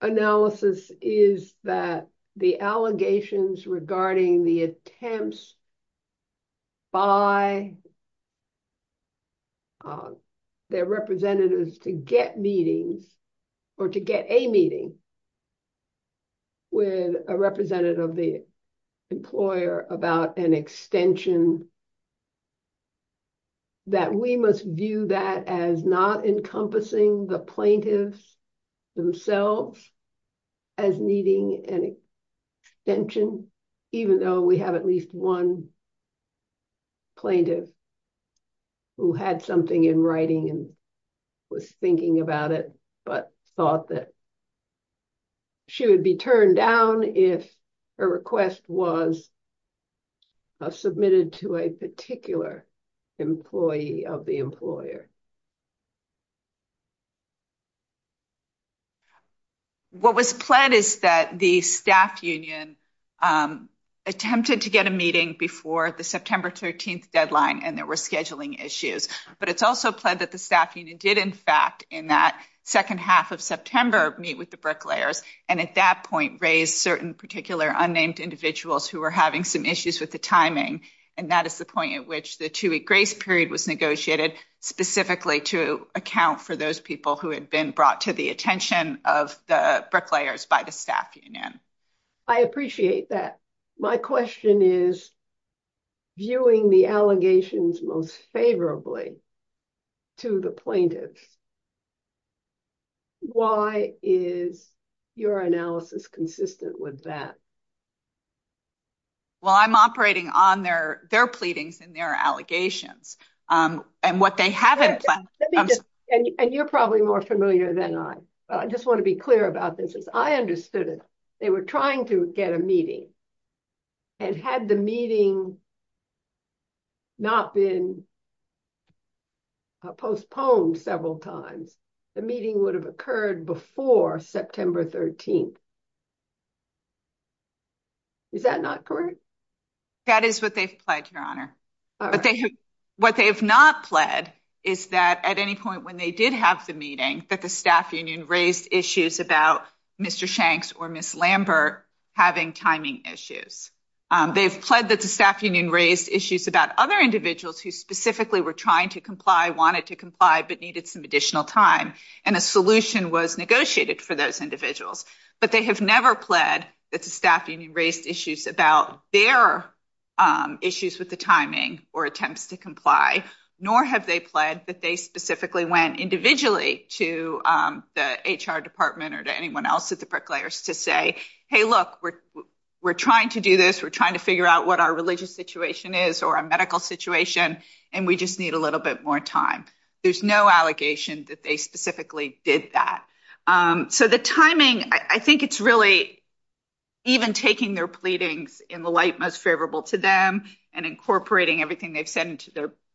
analysis is that the allegations regarding the attempts by their representatives to get meetings, or to get a meeting with a representative of the employer about an extension, that we must view that as not encompassing the plaintiffs themselves as needing an extension, even though we have at least one plaintiff who had something in writing and was thinking about it, but thought that she would be turned down if her request was submitted to a particular employee of the employer. What was pledged is that the staff union attempted to get a meeting before the September 13th deadline and there were scheduling issues. But it's also pledged that the staff union did, in fact, in that second half of September, meet with the bricklayers, and at that point, raised certain particular unnamed individuals who were having some issues with the timing. And that is the point at which the two-week grace period was negotiated, specifically to account for those people who had been brought to the attention of the bricklayers by the staff union. I appreciate that. My question is, viewing the allegations most favorably to the plaintiffs, why is your analysis consistent with that? Well, I'm operating on their pleadings and their allegations. And you're probably more familiar than I. I just want to be clear about this. I understood it. They were trying to get a meeting and had the meeting not been postponed several times, the meeting would have occurred before September 13th. Is that not correct? That is what they've pledged, Your Honor. What they have not pledged is that at any point when they did have the meeting, that the staff union raised issues about Mr. Shanks or Ms. Lambert having timing issues. They've pledged that the staff union raised issues about other individuals who specifically were trying to comply, wanted to comply, but needed some additional time. And a solution was negotiated for those individuals. But they have never pledged that the staff union raised issues about their issues with the timing or attempts to comply. Nor have they pledged that they specifically went individually to the HR department or to anyone else at the bricklayers to say, hey, look, we're trying to do this. We're trying to figure out what our religious situation is or our medical situation. And we just need a little bit more time. There's no allegation that they did that. So the timing, I think it's really even taking their pleadings in the light most favorable to them and incorporating everything they've said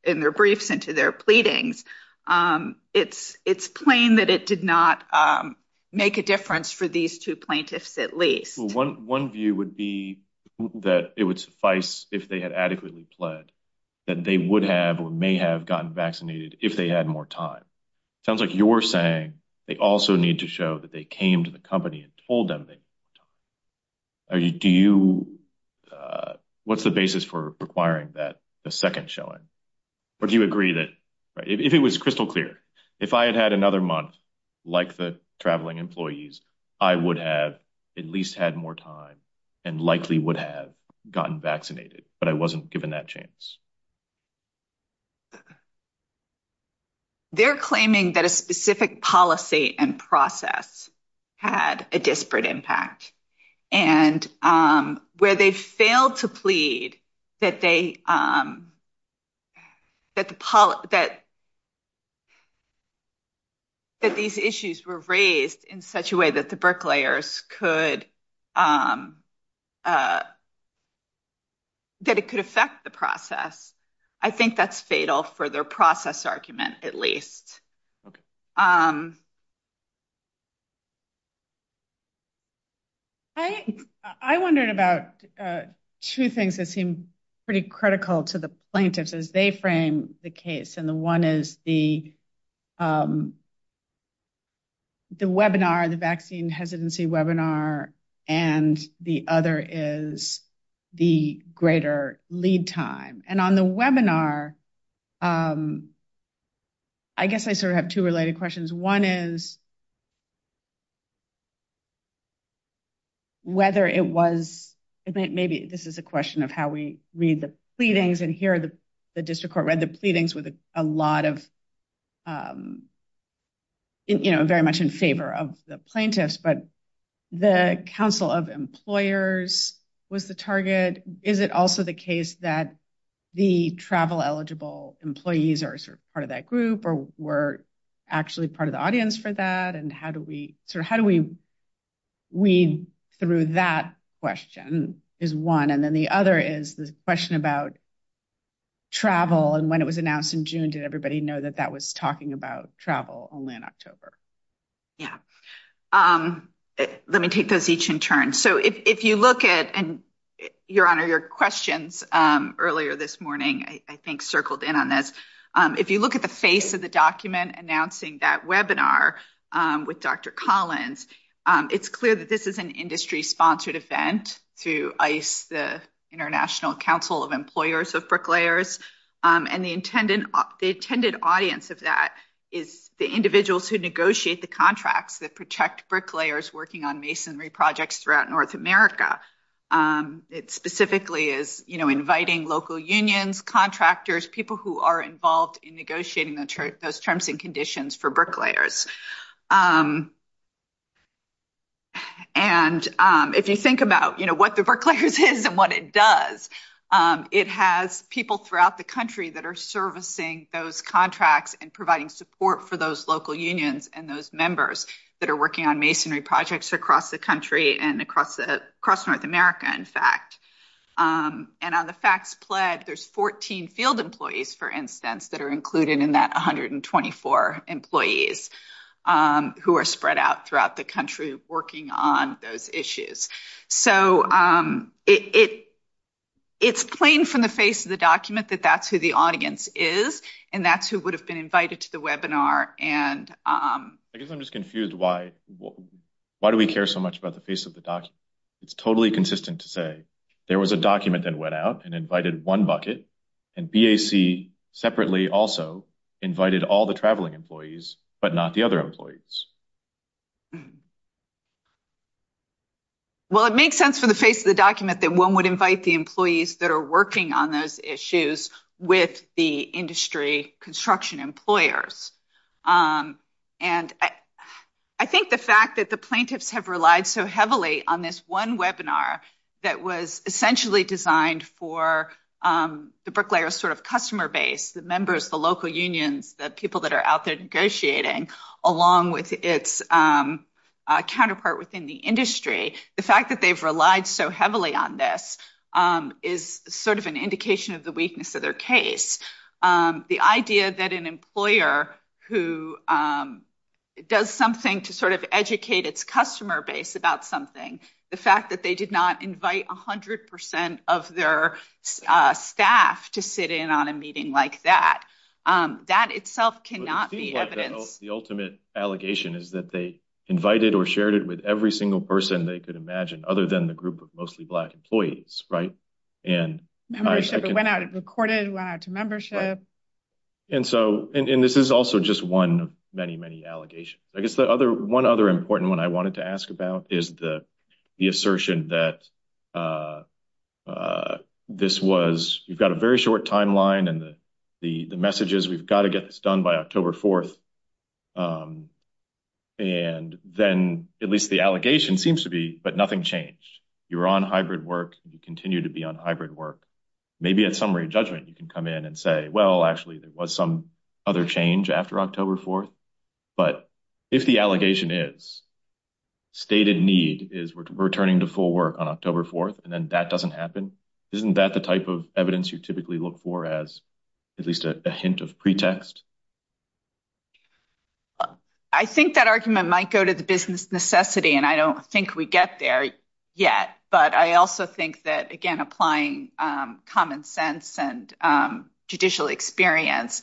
in their briefs into their pleadings. It's plain that it did not make a difference for these two plaintiffs at least. Well, one view would be that it would suffice if they had adequately pledged that they would have may have gotten vaccinated if they had more time. It sounds like you're saying they also need to show that they came to the company and told them that. What's the basis for requiring that second showing? Or do you agree that if it was crystal clear, if I had had another month like the traveling employees, I would have at least had more time and likely would have gotten vaccinated, but I wasn't given that chance. They're claiming that a specific policy and process had a disparate impact and where they failed to plead that these issues were raised in such a way the bricklayers could, that it could affect the process. I think that's fatal for their process argument at least. I wondered about two things that seem pretty critical to the plaintiffs as they frame the case. And the one is the webinar, the vaccine hesitancy webinar, and the other is the greater lead time. And on the webinar, I guess I sort of have two related questions. One is whether it was, maybe this is a question of how we read the pleadings and here the district court read the pleadings with a lot of, you know, very much in favor of the plaintiffs, but the council of employers was the target. Is it also the case that the travel eligible employees are part of that group or were actually part of the audience for that? And how do we sort of, how do we read through that question is one. And then the other is the question about travel and when it was announced in June, did everybody know that that was talking about travel only in October? Yeah. Let me take those each in turn. So if you look at, and your questions earlier this morning, I think circled in on this. If you look at the face of the document announcing that webinar with Dr. Collins, it's clear that this is an industry sponsored event to ICE, the International Council of Employers of Bricklayers. And the intended audience of that is the individuals who negotiate the contracts that protect bricklayers working on projects throughout North America. It specifically is, you know, inviting local unions, contractors, people who are involved in negotiating those terms and conditions for bricklayers. And if you think about, you know, what the bricklayers is and what it does, it has people throughout the country that are servicing those contracts and providing support for those local unions and those members that are working on masonry projects across the country and across North America, in fact. And on the facts pledged, there's 14 field employees, for instance, that are included in that 124 employees who are spread out throughout the country working on those issues. So it's plain from the face of the document that that's who the audience is, and that's who would have been invited to the webinar. And I guess I'm just confused why do we care so much about the face of the document? It's totally consistent to say there was a document that went out and invited one bucket, and BAC separately also invited all the traveling employees, but not the other employees. Well, it makes sense from the face of the document that one would invite the employees that are working on those issues with the industry construction employers. And I think the fact that the plaintiffs have relied so heavily on this one webinar that was essentially designed for the bricklayer's sort of customer base, the members, the local unions, the people that are out there negotiating, along with its counterpart within the industry, the fact that they've relied so heavily on this is sort of an indication of the weakness of their case. The idea that an employer who does something to sort of educate its customer base about something, the fact that they did not invite 100% of their staff to sit in on a meeting like that, that itself cannot be evidence. The ultimate allegation is that they invited or shared it with every single person they could imagine, other than the group of mostly black employees, right? Membership that went out and recorded, went out to membership. And this is also just one many, many allegations. I guess one other important one I wanted to ask about is the assertion that this was, you've got a very short timeline and the message is we've got to get this done by October 4th. And then at least the allegation seems to be, but nothing changed. You're on hybrid work, you continue to be on hybrid work. Maybe at some re-judgment, you can come in and say, well, actually there was some other change after October 4th. But if the allegation is stated need is returning to full work on October 4th, and then that doesn't happen, isn't that the type of evidence you typically look for as at least a hint of pretext? I think that argument might go to the business necessity, and I don't think we get there yet. But I also think that, again, applying common sense and judicial experience,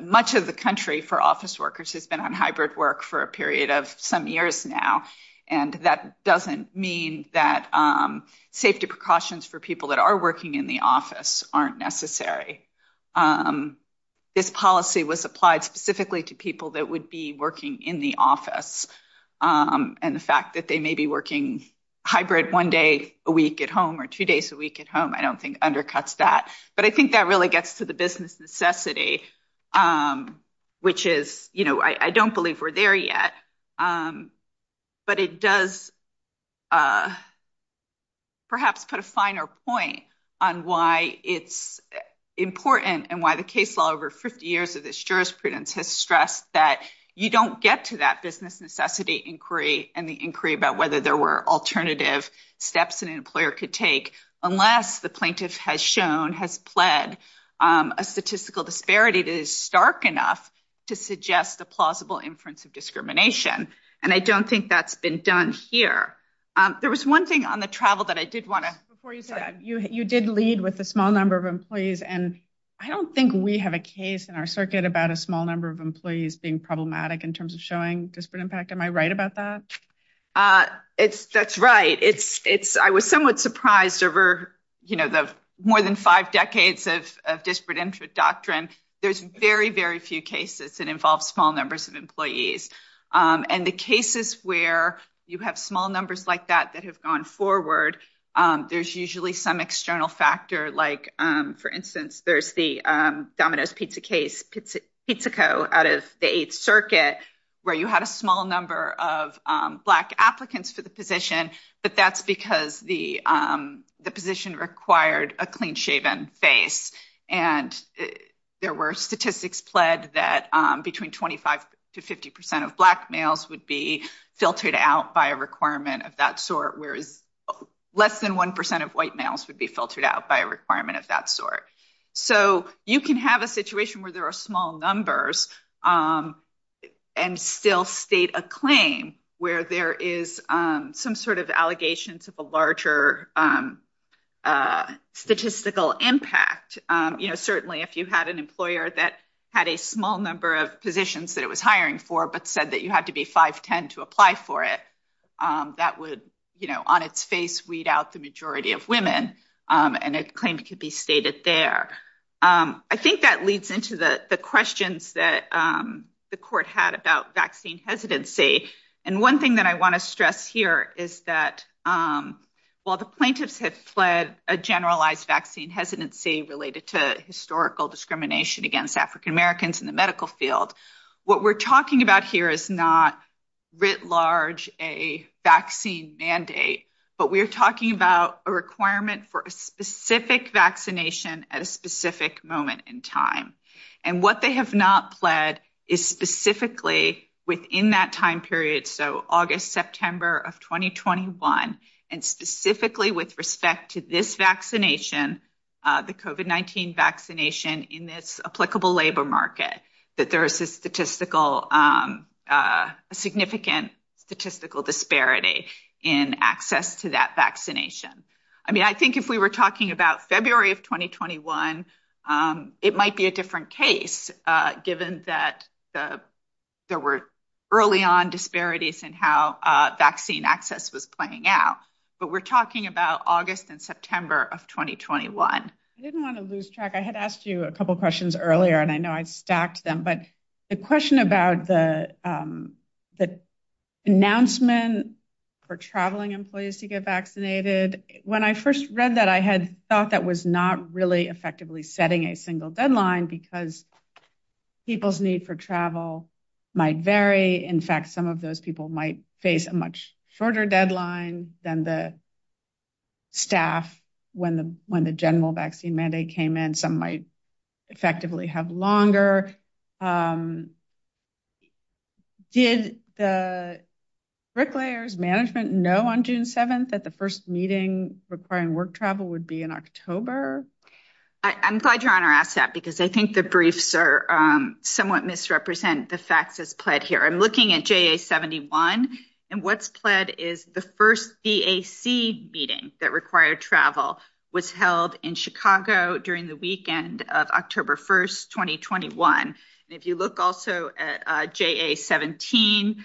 much of the country for office workers has been on hybrid work for a period of some years now. And that doesn't mean that safety precautions for people that are working in the office aren't necessary. This policy was applied specifically to people that would be working in the office. And the fact that they may be working hybrid one day a week at home or two days a week at home, I don't think undercuts that. But I think that really gets to the business necessity, which is, you know, I don't believe we're there yet. But it does perhaps put a finer point on why it's important and why the case law over 50 years of this jurisprudence has stressed that you don't get to that business necessity inquiry and the inquiry about whether there were alternative steps an employer could take unless the plaintiff has pled a statistical disparity that is stark enough to suggest a plausible inference of discrimination. And I don't think that's been done here. There was one thing on the travel that I did want to... Before you do that, you did lead with a small number of employees, and I don't think we have a case in our circuit about a small number of employees being problematic in terms of showing disparate impact. Am I right about that? That's right. I was somewhat surprised over, you know, the more than five decades of disparate interest doctrine, there's very, very few cases that involve small numbers of employees. And the cases where you have small numbers like that that have gone forward, there's usually some external factor, like, for instance, there's the Domino's Pizza case, Pizzico out of the Eighth Circuit, where you had a small number of black applicants to the position, but that's because the position required a clean-shaven face. And there were statistics pled that between 25 to 50% of black males would be filtered out by a requirement of that sort, whereas less than 1% of white males would be filtered out by a requirement of that sort. So, you can have a situation where there are numbers and still state a claim where there is some sort of allegations of a larger statistical impact. Certainly, if you had an employer that had a small number of positions that it was hiring for, but said that you had to be 5'10 to apply for it, that would, you know, on its face weed out the majority of women, and it's claimed to be stated there. I think that leads into the questions that the court had about vaccine hesitancy. And one thing that I want to stress here is that while the plaintiffs had pled a generalized vaccine hesitancy related to historical discrimination against African Americans in the medical field, what we're talking about here is not, writ large, a vaccine mandate, but we're talking about a requirement for a specific vaccination at a specific moment in time. And what they have not pled is specifically within that time period. So, August, September of 2021, and specifically with respect to this vaccination, the COVID-19 vaccination in its applicable labor that there is a statistical, a significant statistical disparity in access to that vaccination. I mean, I think if we were talking about February of 2021, it might be a different case, given that there were early on disparities in how vaccine access was playing out, but we're talking about August and September of 2021. I didn't want to lose track. I had asked you a earlier, and I know I've stacked them, but the question about the announcement for traveling employees to get vaccinated, when I first read that, I had thought that was not really effectively setting a single deadline because people's need for travel might vary. In fact, some of those people might face a much shorter deadline than the staff when the general vaccine mandate came in. Some might effectively have longer. Did the bricklayers management know on June 7th that the first meeting requiring work travel would be in October? I'm glad your honor asked that, because I think the briefs are somewhat misrepresent the facts as pled here. I'm looking at JA-71, and what's pled is the first DAC meeting that required travel was held in Chicago during the weekend of October 1st, 2021. If you look also at JA-17,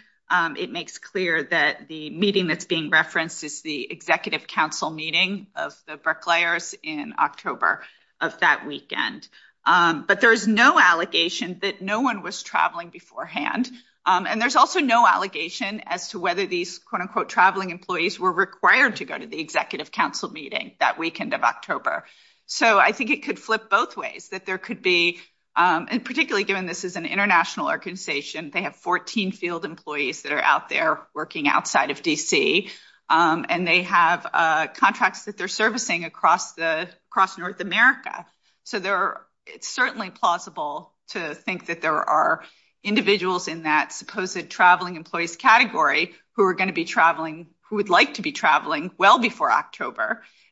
it makes clear that the meeting that's being referenced is the executive council meeting of the bricklayers in October of that weekend, but there's no allegation that no one was traveling beforehand, and there's also no allegation as to whether these quote unquote traveling employees were required to go to the council meeting that weekend of October. So I think it could flip both ways, that there could be, and particularly given this is an international organization, they have 14 field employees that are out there working outside of DC, and they have contracts that they're servicing across the across North America. So it's certainly plausible to think that there are individuals in that supposed traveling employees category who are going to be traveling, who would like to be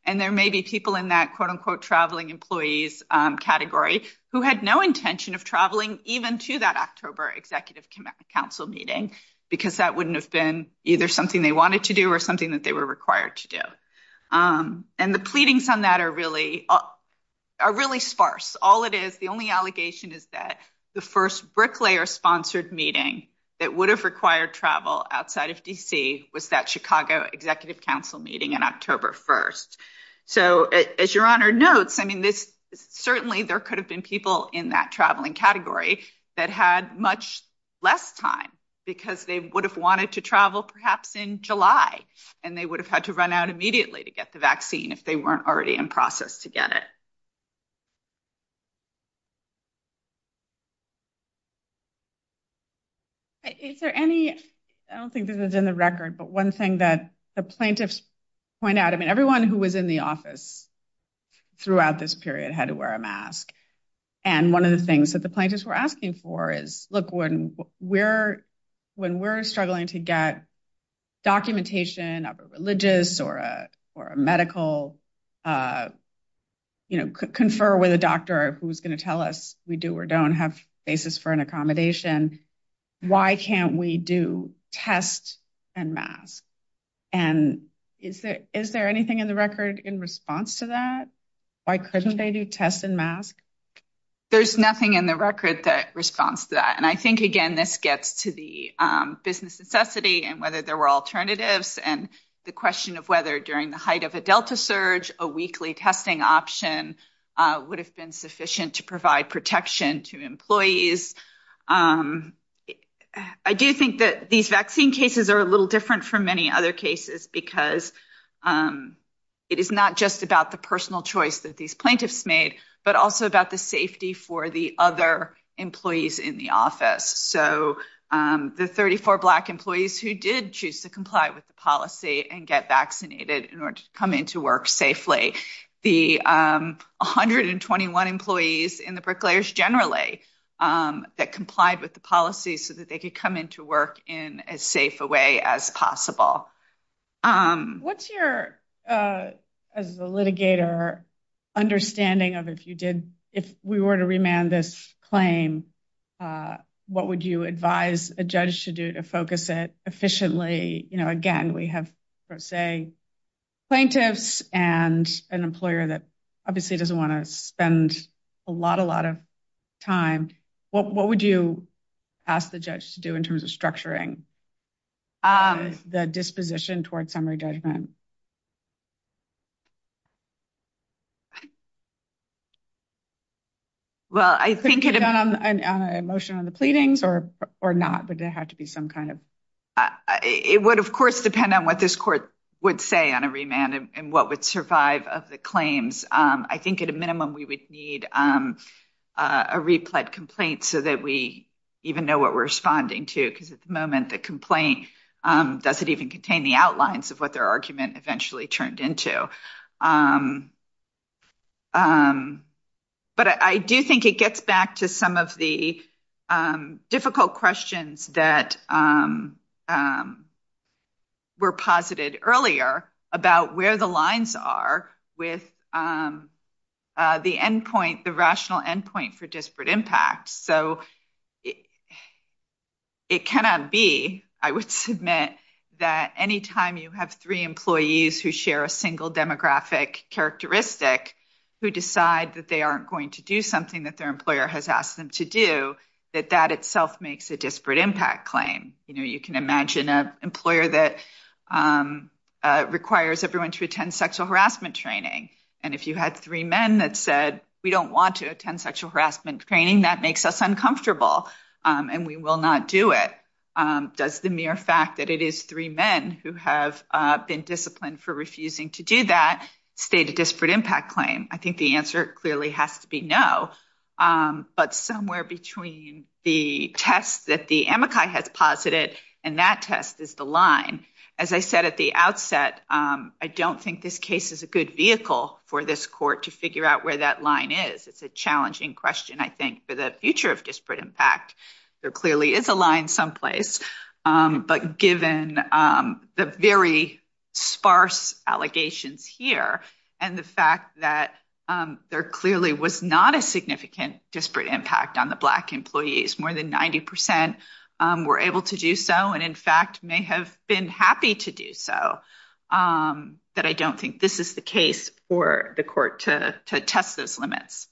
and there may be people in that quote unquote traveling employees category who had no intention of traveling even to that October executive council meeting, because that wouldn't have been either something they wanted to do or something that they were required to do. And the pleadings on that are really sparse. All it is, the only allegation is that the first bricklayer sponsored meeting that would have required travel outside of DC was that Chicago executive council meeting on October 1st. So as your honor notes, I mean, certainly there could have been people in that traveling category that had much less time, because they would have wanted to travel perhaps in July, and they would have had to run out immediately to get the vaccine if they weren't already in process to get it. Is there any, I don't think this is in the record, but one thing that the plaintiffs point out, I mean, everyone who was in the office throughout this period had to wear a mask. And one of the things that the plaintiffs were asking for is, look, when we're struggling to get documentation of a religious or a medical, you know, confer with a doctor who's going to tell us we do or don't have basis for an accommodation, why can't we do tests and masks? And is there anything in the record in response to that? Why couldn't they do tests and masks? There's nothing in the record that responds to that. And I think, again, this gets to the business necessity and whether there were alternatives, and the question of whether during the height of a delta surge, a weekly testing option would have been sufficient to provide protection to employees. I do think that these vaccine cases are a little different from many other cases, because it is not just about the personal choice that these plaintiffs made, but also about the safety for the other employees in the office. So the 34 Black employees who did choose to comply with the policy and get vaccinated in order to come into work safely, the 121 employees in the precarious generally that complied with the policy so that they could come into work in as safe a way as possible. What's your, as a litigator, understanding of if you did, if we were to remand this claim, what would you advise a judge to do to focus it efficiently? You know, again, we have, per se, plaintiffs and an employer that obviously doesn't want to spend a lot, a lot of time. What would you ask the judge to do in terms of structuring the disposition towards summary judgment? Well, I think it depends on the motion on the pleadings or not. Would there have to be some kind of... It would, of course, depend on what this court would say on a remand and what would of the claims. I think at a minimum, we would need a replied complaint so that we even know what we're responding to because at the moment, the complaint doesn't even contain the outlines of what their argument eventually turned into. But I do think it gets back to some of the difficult questions that were posited earlier about where the lines are with the end point, the rational end point for disparate impact. So, it cannot be, I would submit, that anytime you have three employees who share a single demographic characteristic who decide that they aren't going to do something that their employer has asked them to do, that that itself makes a disparate impact claim. You can imagine an employer that requires everyone to attend sexual harassment training. And if you had three men that said, we don't want to attend sexual harassment training, that makes us uncomfortable and we will not do it. Does the mere fact that it is three men who have been disciplined for refusing to do that state a disparate impact claim? I think the answer clearly has to be no. But somewhere between the test that the AMACI has posited and that test is the line. As I said at the outset, I don't think this case is a good vehicle for this court to figure out where that line is. It's a challenging question, I think, for the future of disparate impact. There clearly is a line someplace. But given the very sparse allegations here and the fact that there clearly was not a significant disparate impact on the black employees, more than 90% were able to do so and, in fact, may have been happy to do so. But I don't think this is the case for the court to test those limits.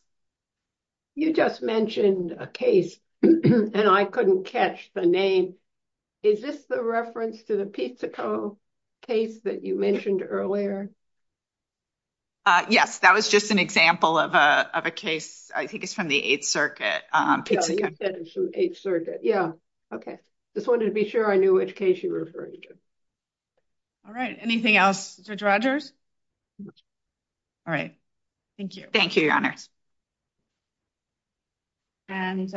You just mentioned a case and I couldn't catch the name. Is this the reference to the Pizzico case that you mentioned earlier? Yes. That was just an example of a case. I think it's from the Eighth Circuit. You said it's from the Eighth Circuit. Yeah. Okay. Just wanted to be sure I knew which case you referred to. All right. Anything else? Judge Rogers? All right. Thank you. Thank you, Your Honor. All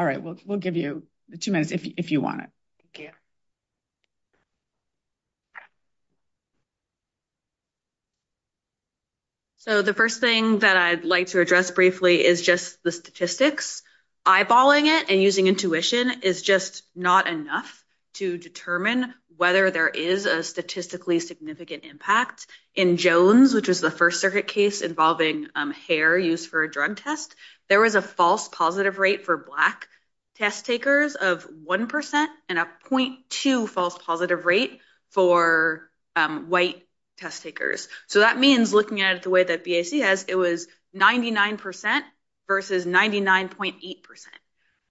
right. We'll give you two minutes if you want it. Okay. So the first thing that I'd like to address briefly is just the statistics. Eyeballing it and using intuition is just not enough to determine whether there is a statistically significant impact. In Jones, which is the First Circuit case involving hair used for a drug test, there was a false positive rate for black test takers of 1 percent and a 0.2 false positive rate for white test takers. So that means, looking at it the way that BAC has, it was 99 percent versus 99.8 percent.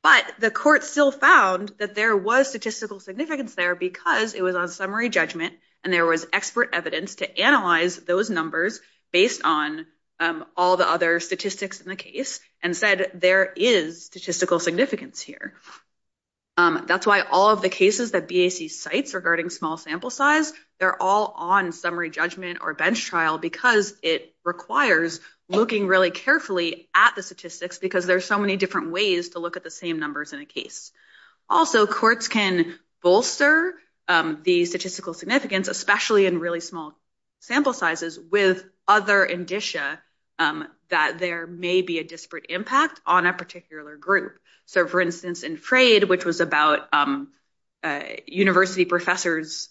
But the court still found that there was statistical significance there because it was on summary judgment and there was expert evidence to analyze those numbers based on all the other statistics in the case and said there is statistical significance here. That's why all of the cases that BAC cites regarding small sample size, they're all on summary judgment or bench trial because it requires looking really carefully at the statistics because there's so many different ways to look at the same numbers in a case. Also, courts can bolster the statistical significance, especially in really small sample sizes, with other indicia that there may be a disparate impact on a particular group. So, for instance, in Frade, which was about university professors'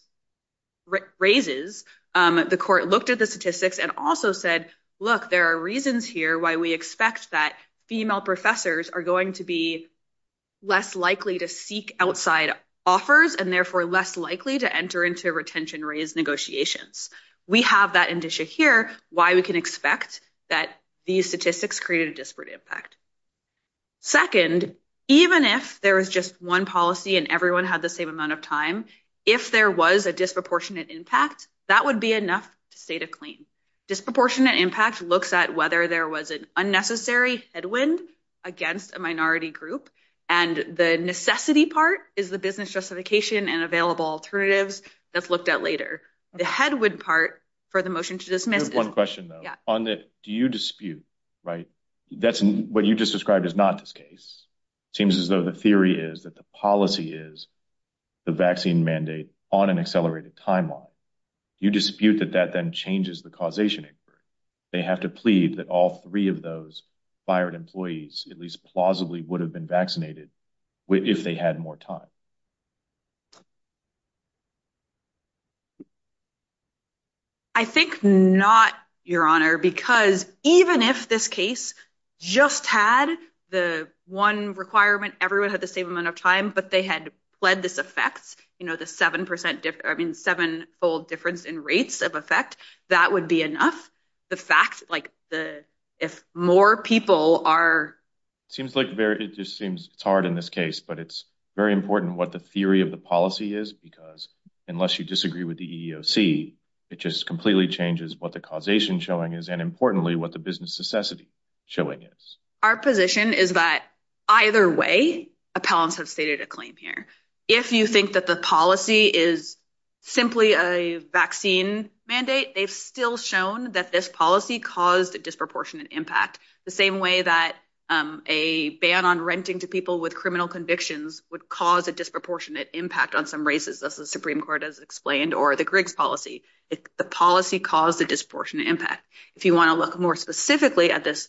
raises, the court looked at the statistics and also said, look, there are reasons here why we expect that female professors are going to be less likely to seek outside offers and therefore less likely to enter into retention raise negotiations. We have that indicia here why we can expect that these statistics create a disparate impact. Second, even if there was just one policy and everyone had the same amount of time, if there was a disproportionate impact, that would be enough to state a claim. Disproportionate impact looks at whether there was an unnecessary headwind against a minority group and the necessity part is the business justification and available alternatives that's looked at later. The headwind part for the motion to dismiss... One question though, on the do you dispute, right, that's what you just described is not this case. Seems as though the theory is that the policy is the vaccine mandate on an accelerated timeline. You dispute that that then changes the causation. They have to plead that all three of those fired employees, at least plausibly, would have been vaccinated if they had more time. I think not, your honor, because even if this case just had the one requirement everyone had the same amount of time, but they had pledged this effect, you know, the seven percent difference, I mean, seven fold difference in rates of effect, that would be enough. The fact, like, if more people are... Seems like very, it just seems hard in this case, but it's very important what the theory of the policy is because unless you disagree with the EEOC it just completely changes what the causation showing is and importantly what the business necessity showing is. Our position is that either way appellants have stated a claim here. If you think that the policy is simply a vaccine mandate, they've still shown that this policy caused a disproportionate impact the same way that a ban on renting to people with criminal convictions would cause a disproportionate impact on some races, thus the Supreme Court has explained, or the Griggs policy. The policy caused a disproportionate impact. If you want to look more specifically at this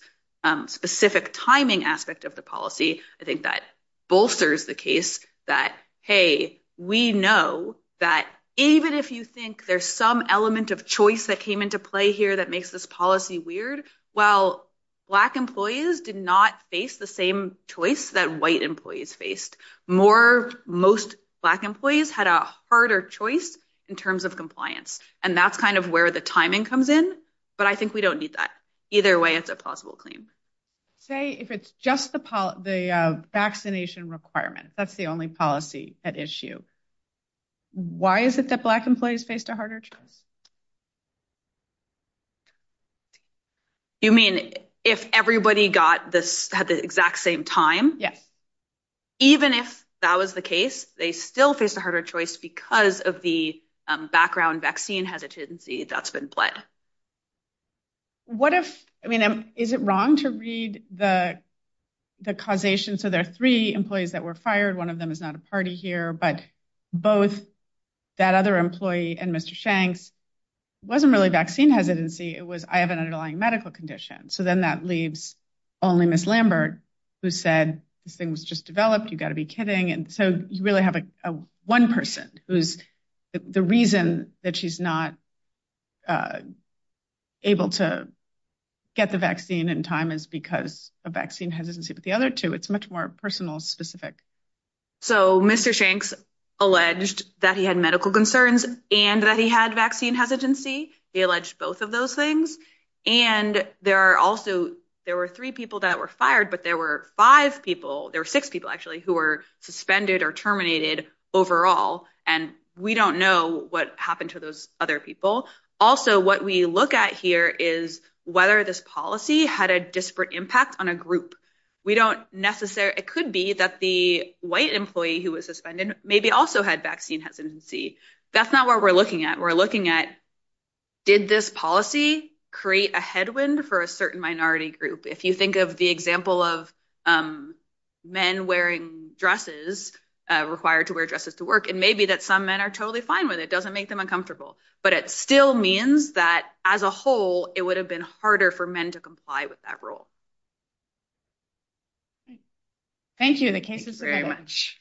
specific timing aspect of the policy, I think that bolsters the case that, hey, we know that even if you think there's some element of choice that came into play here that makes this policy weird, well, black employees did not face the same choice that white employees faced. More, most black employees had a harder choice in terms of compliance and that's kind of where the timing comes in, but I think we don't need that. Either way, it's a plausible claim. Say if it's just the vaccination requirements, that's the only policy at issue. Why is it that black employees faced a harder choice? You mean if everybody got this at the exact same time? Yeah. Even if that was the case, they still faced a harder choice because of the background vaccine hesitancy that's been played. What if, I mean, is it wrong to read the causation, so there are three employees that were fired, one of them is not a party here, but both that other employee and Mr. Shanks, wasn't really vaccine hesitancy, it was I have an underlying medical condition, so then that leaves only Ms. Lambert who said things just developed, you've got to be kidding, and so you really have one person who's, the reason that she's not able to get the vaccine in time is because of vaccine hesitancy with the other two. It's much more personal specific. So Mr. Shanks alleged that he had medical concerns and that he had vaccine hesitancy, he alleged both of those things, and there are also, there were three people that were fired, but there were five people, there were six people actually, who were suspended or terminated overall, and we don't know what happened to those other people. Also, what we look at here is whether this policy had a disparate impact on a group. We don't necessarily, it could be that the white employee who was suspended maybe also had vaccine hesitancy. That's not what we're looking at. We're looking at did this policy create a headwind for a certain minority group? If you think of the example of men wearing dresses, required to wear dresses to work, and maybe that some men are totally fine with it, doesn't make them uncomfortable, but it still means that as a whole, it would have been harder for men to comply with that rule. Thank you, Nakisha, very much.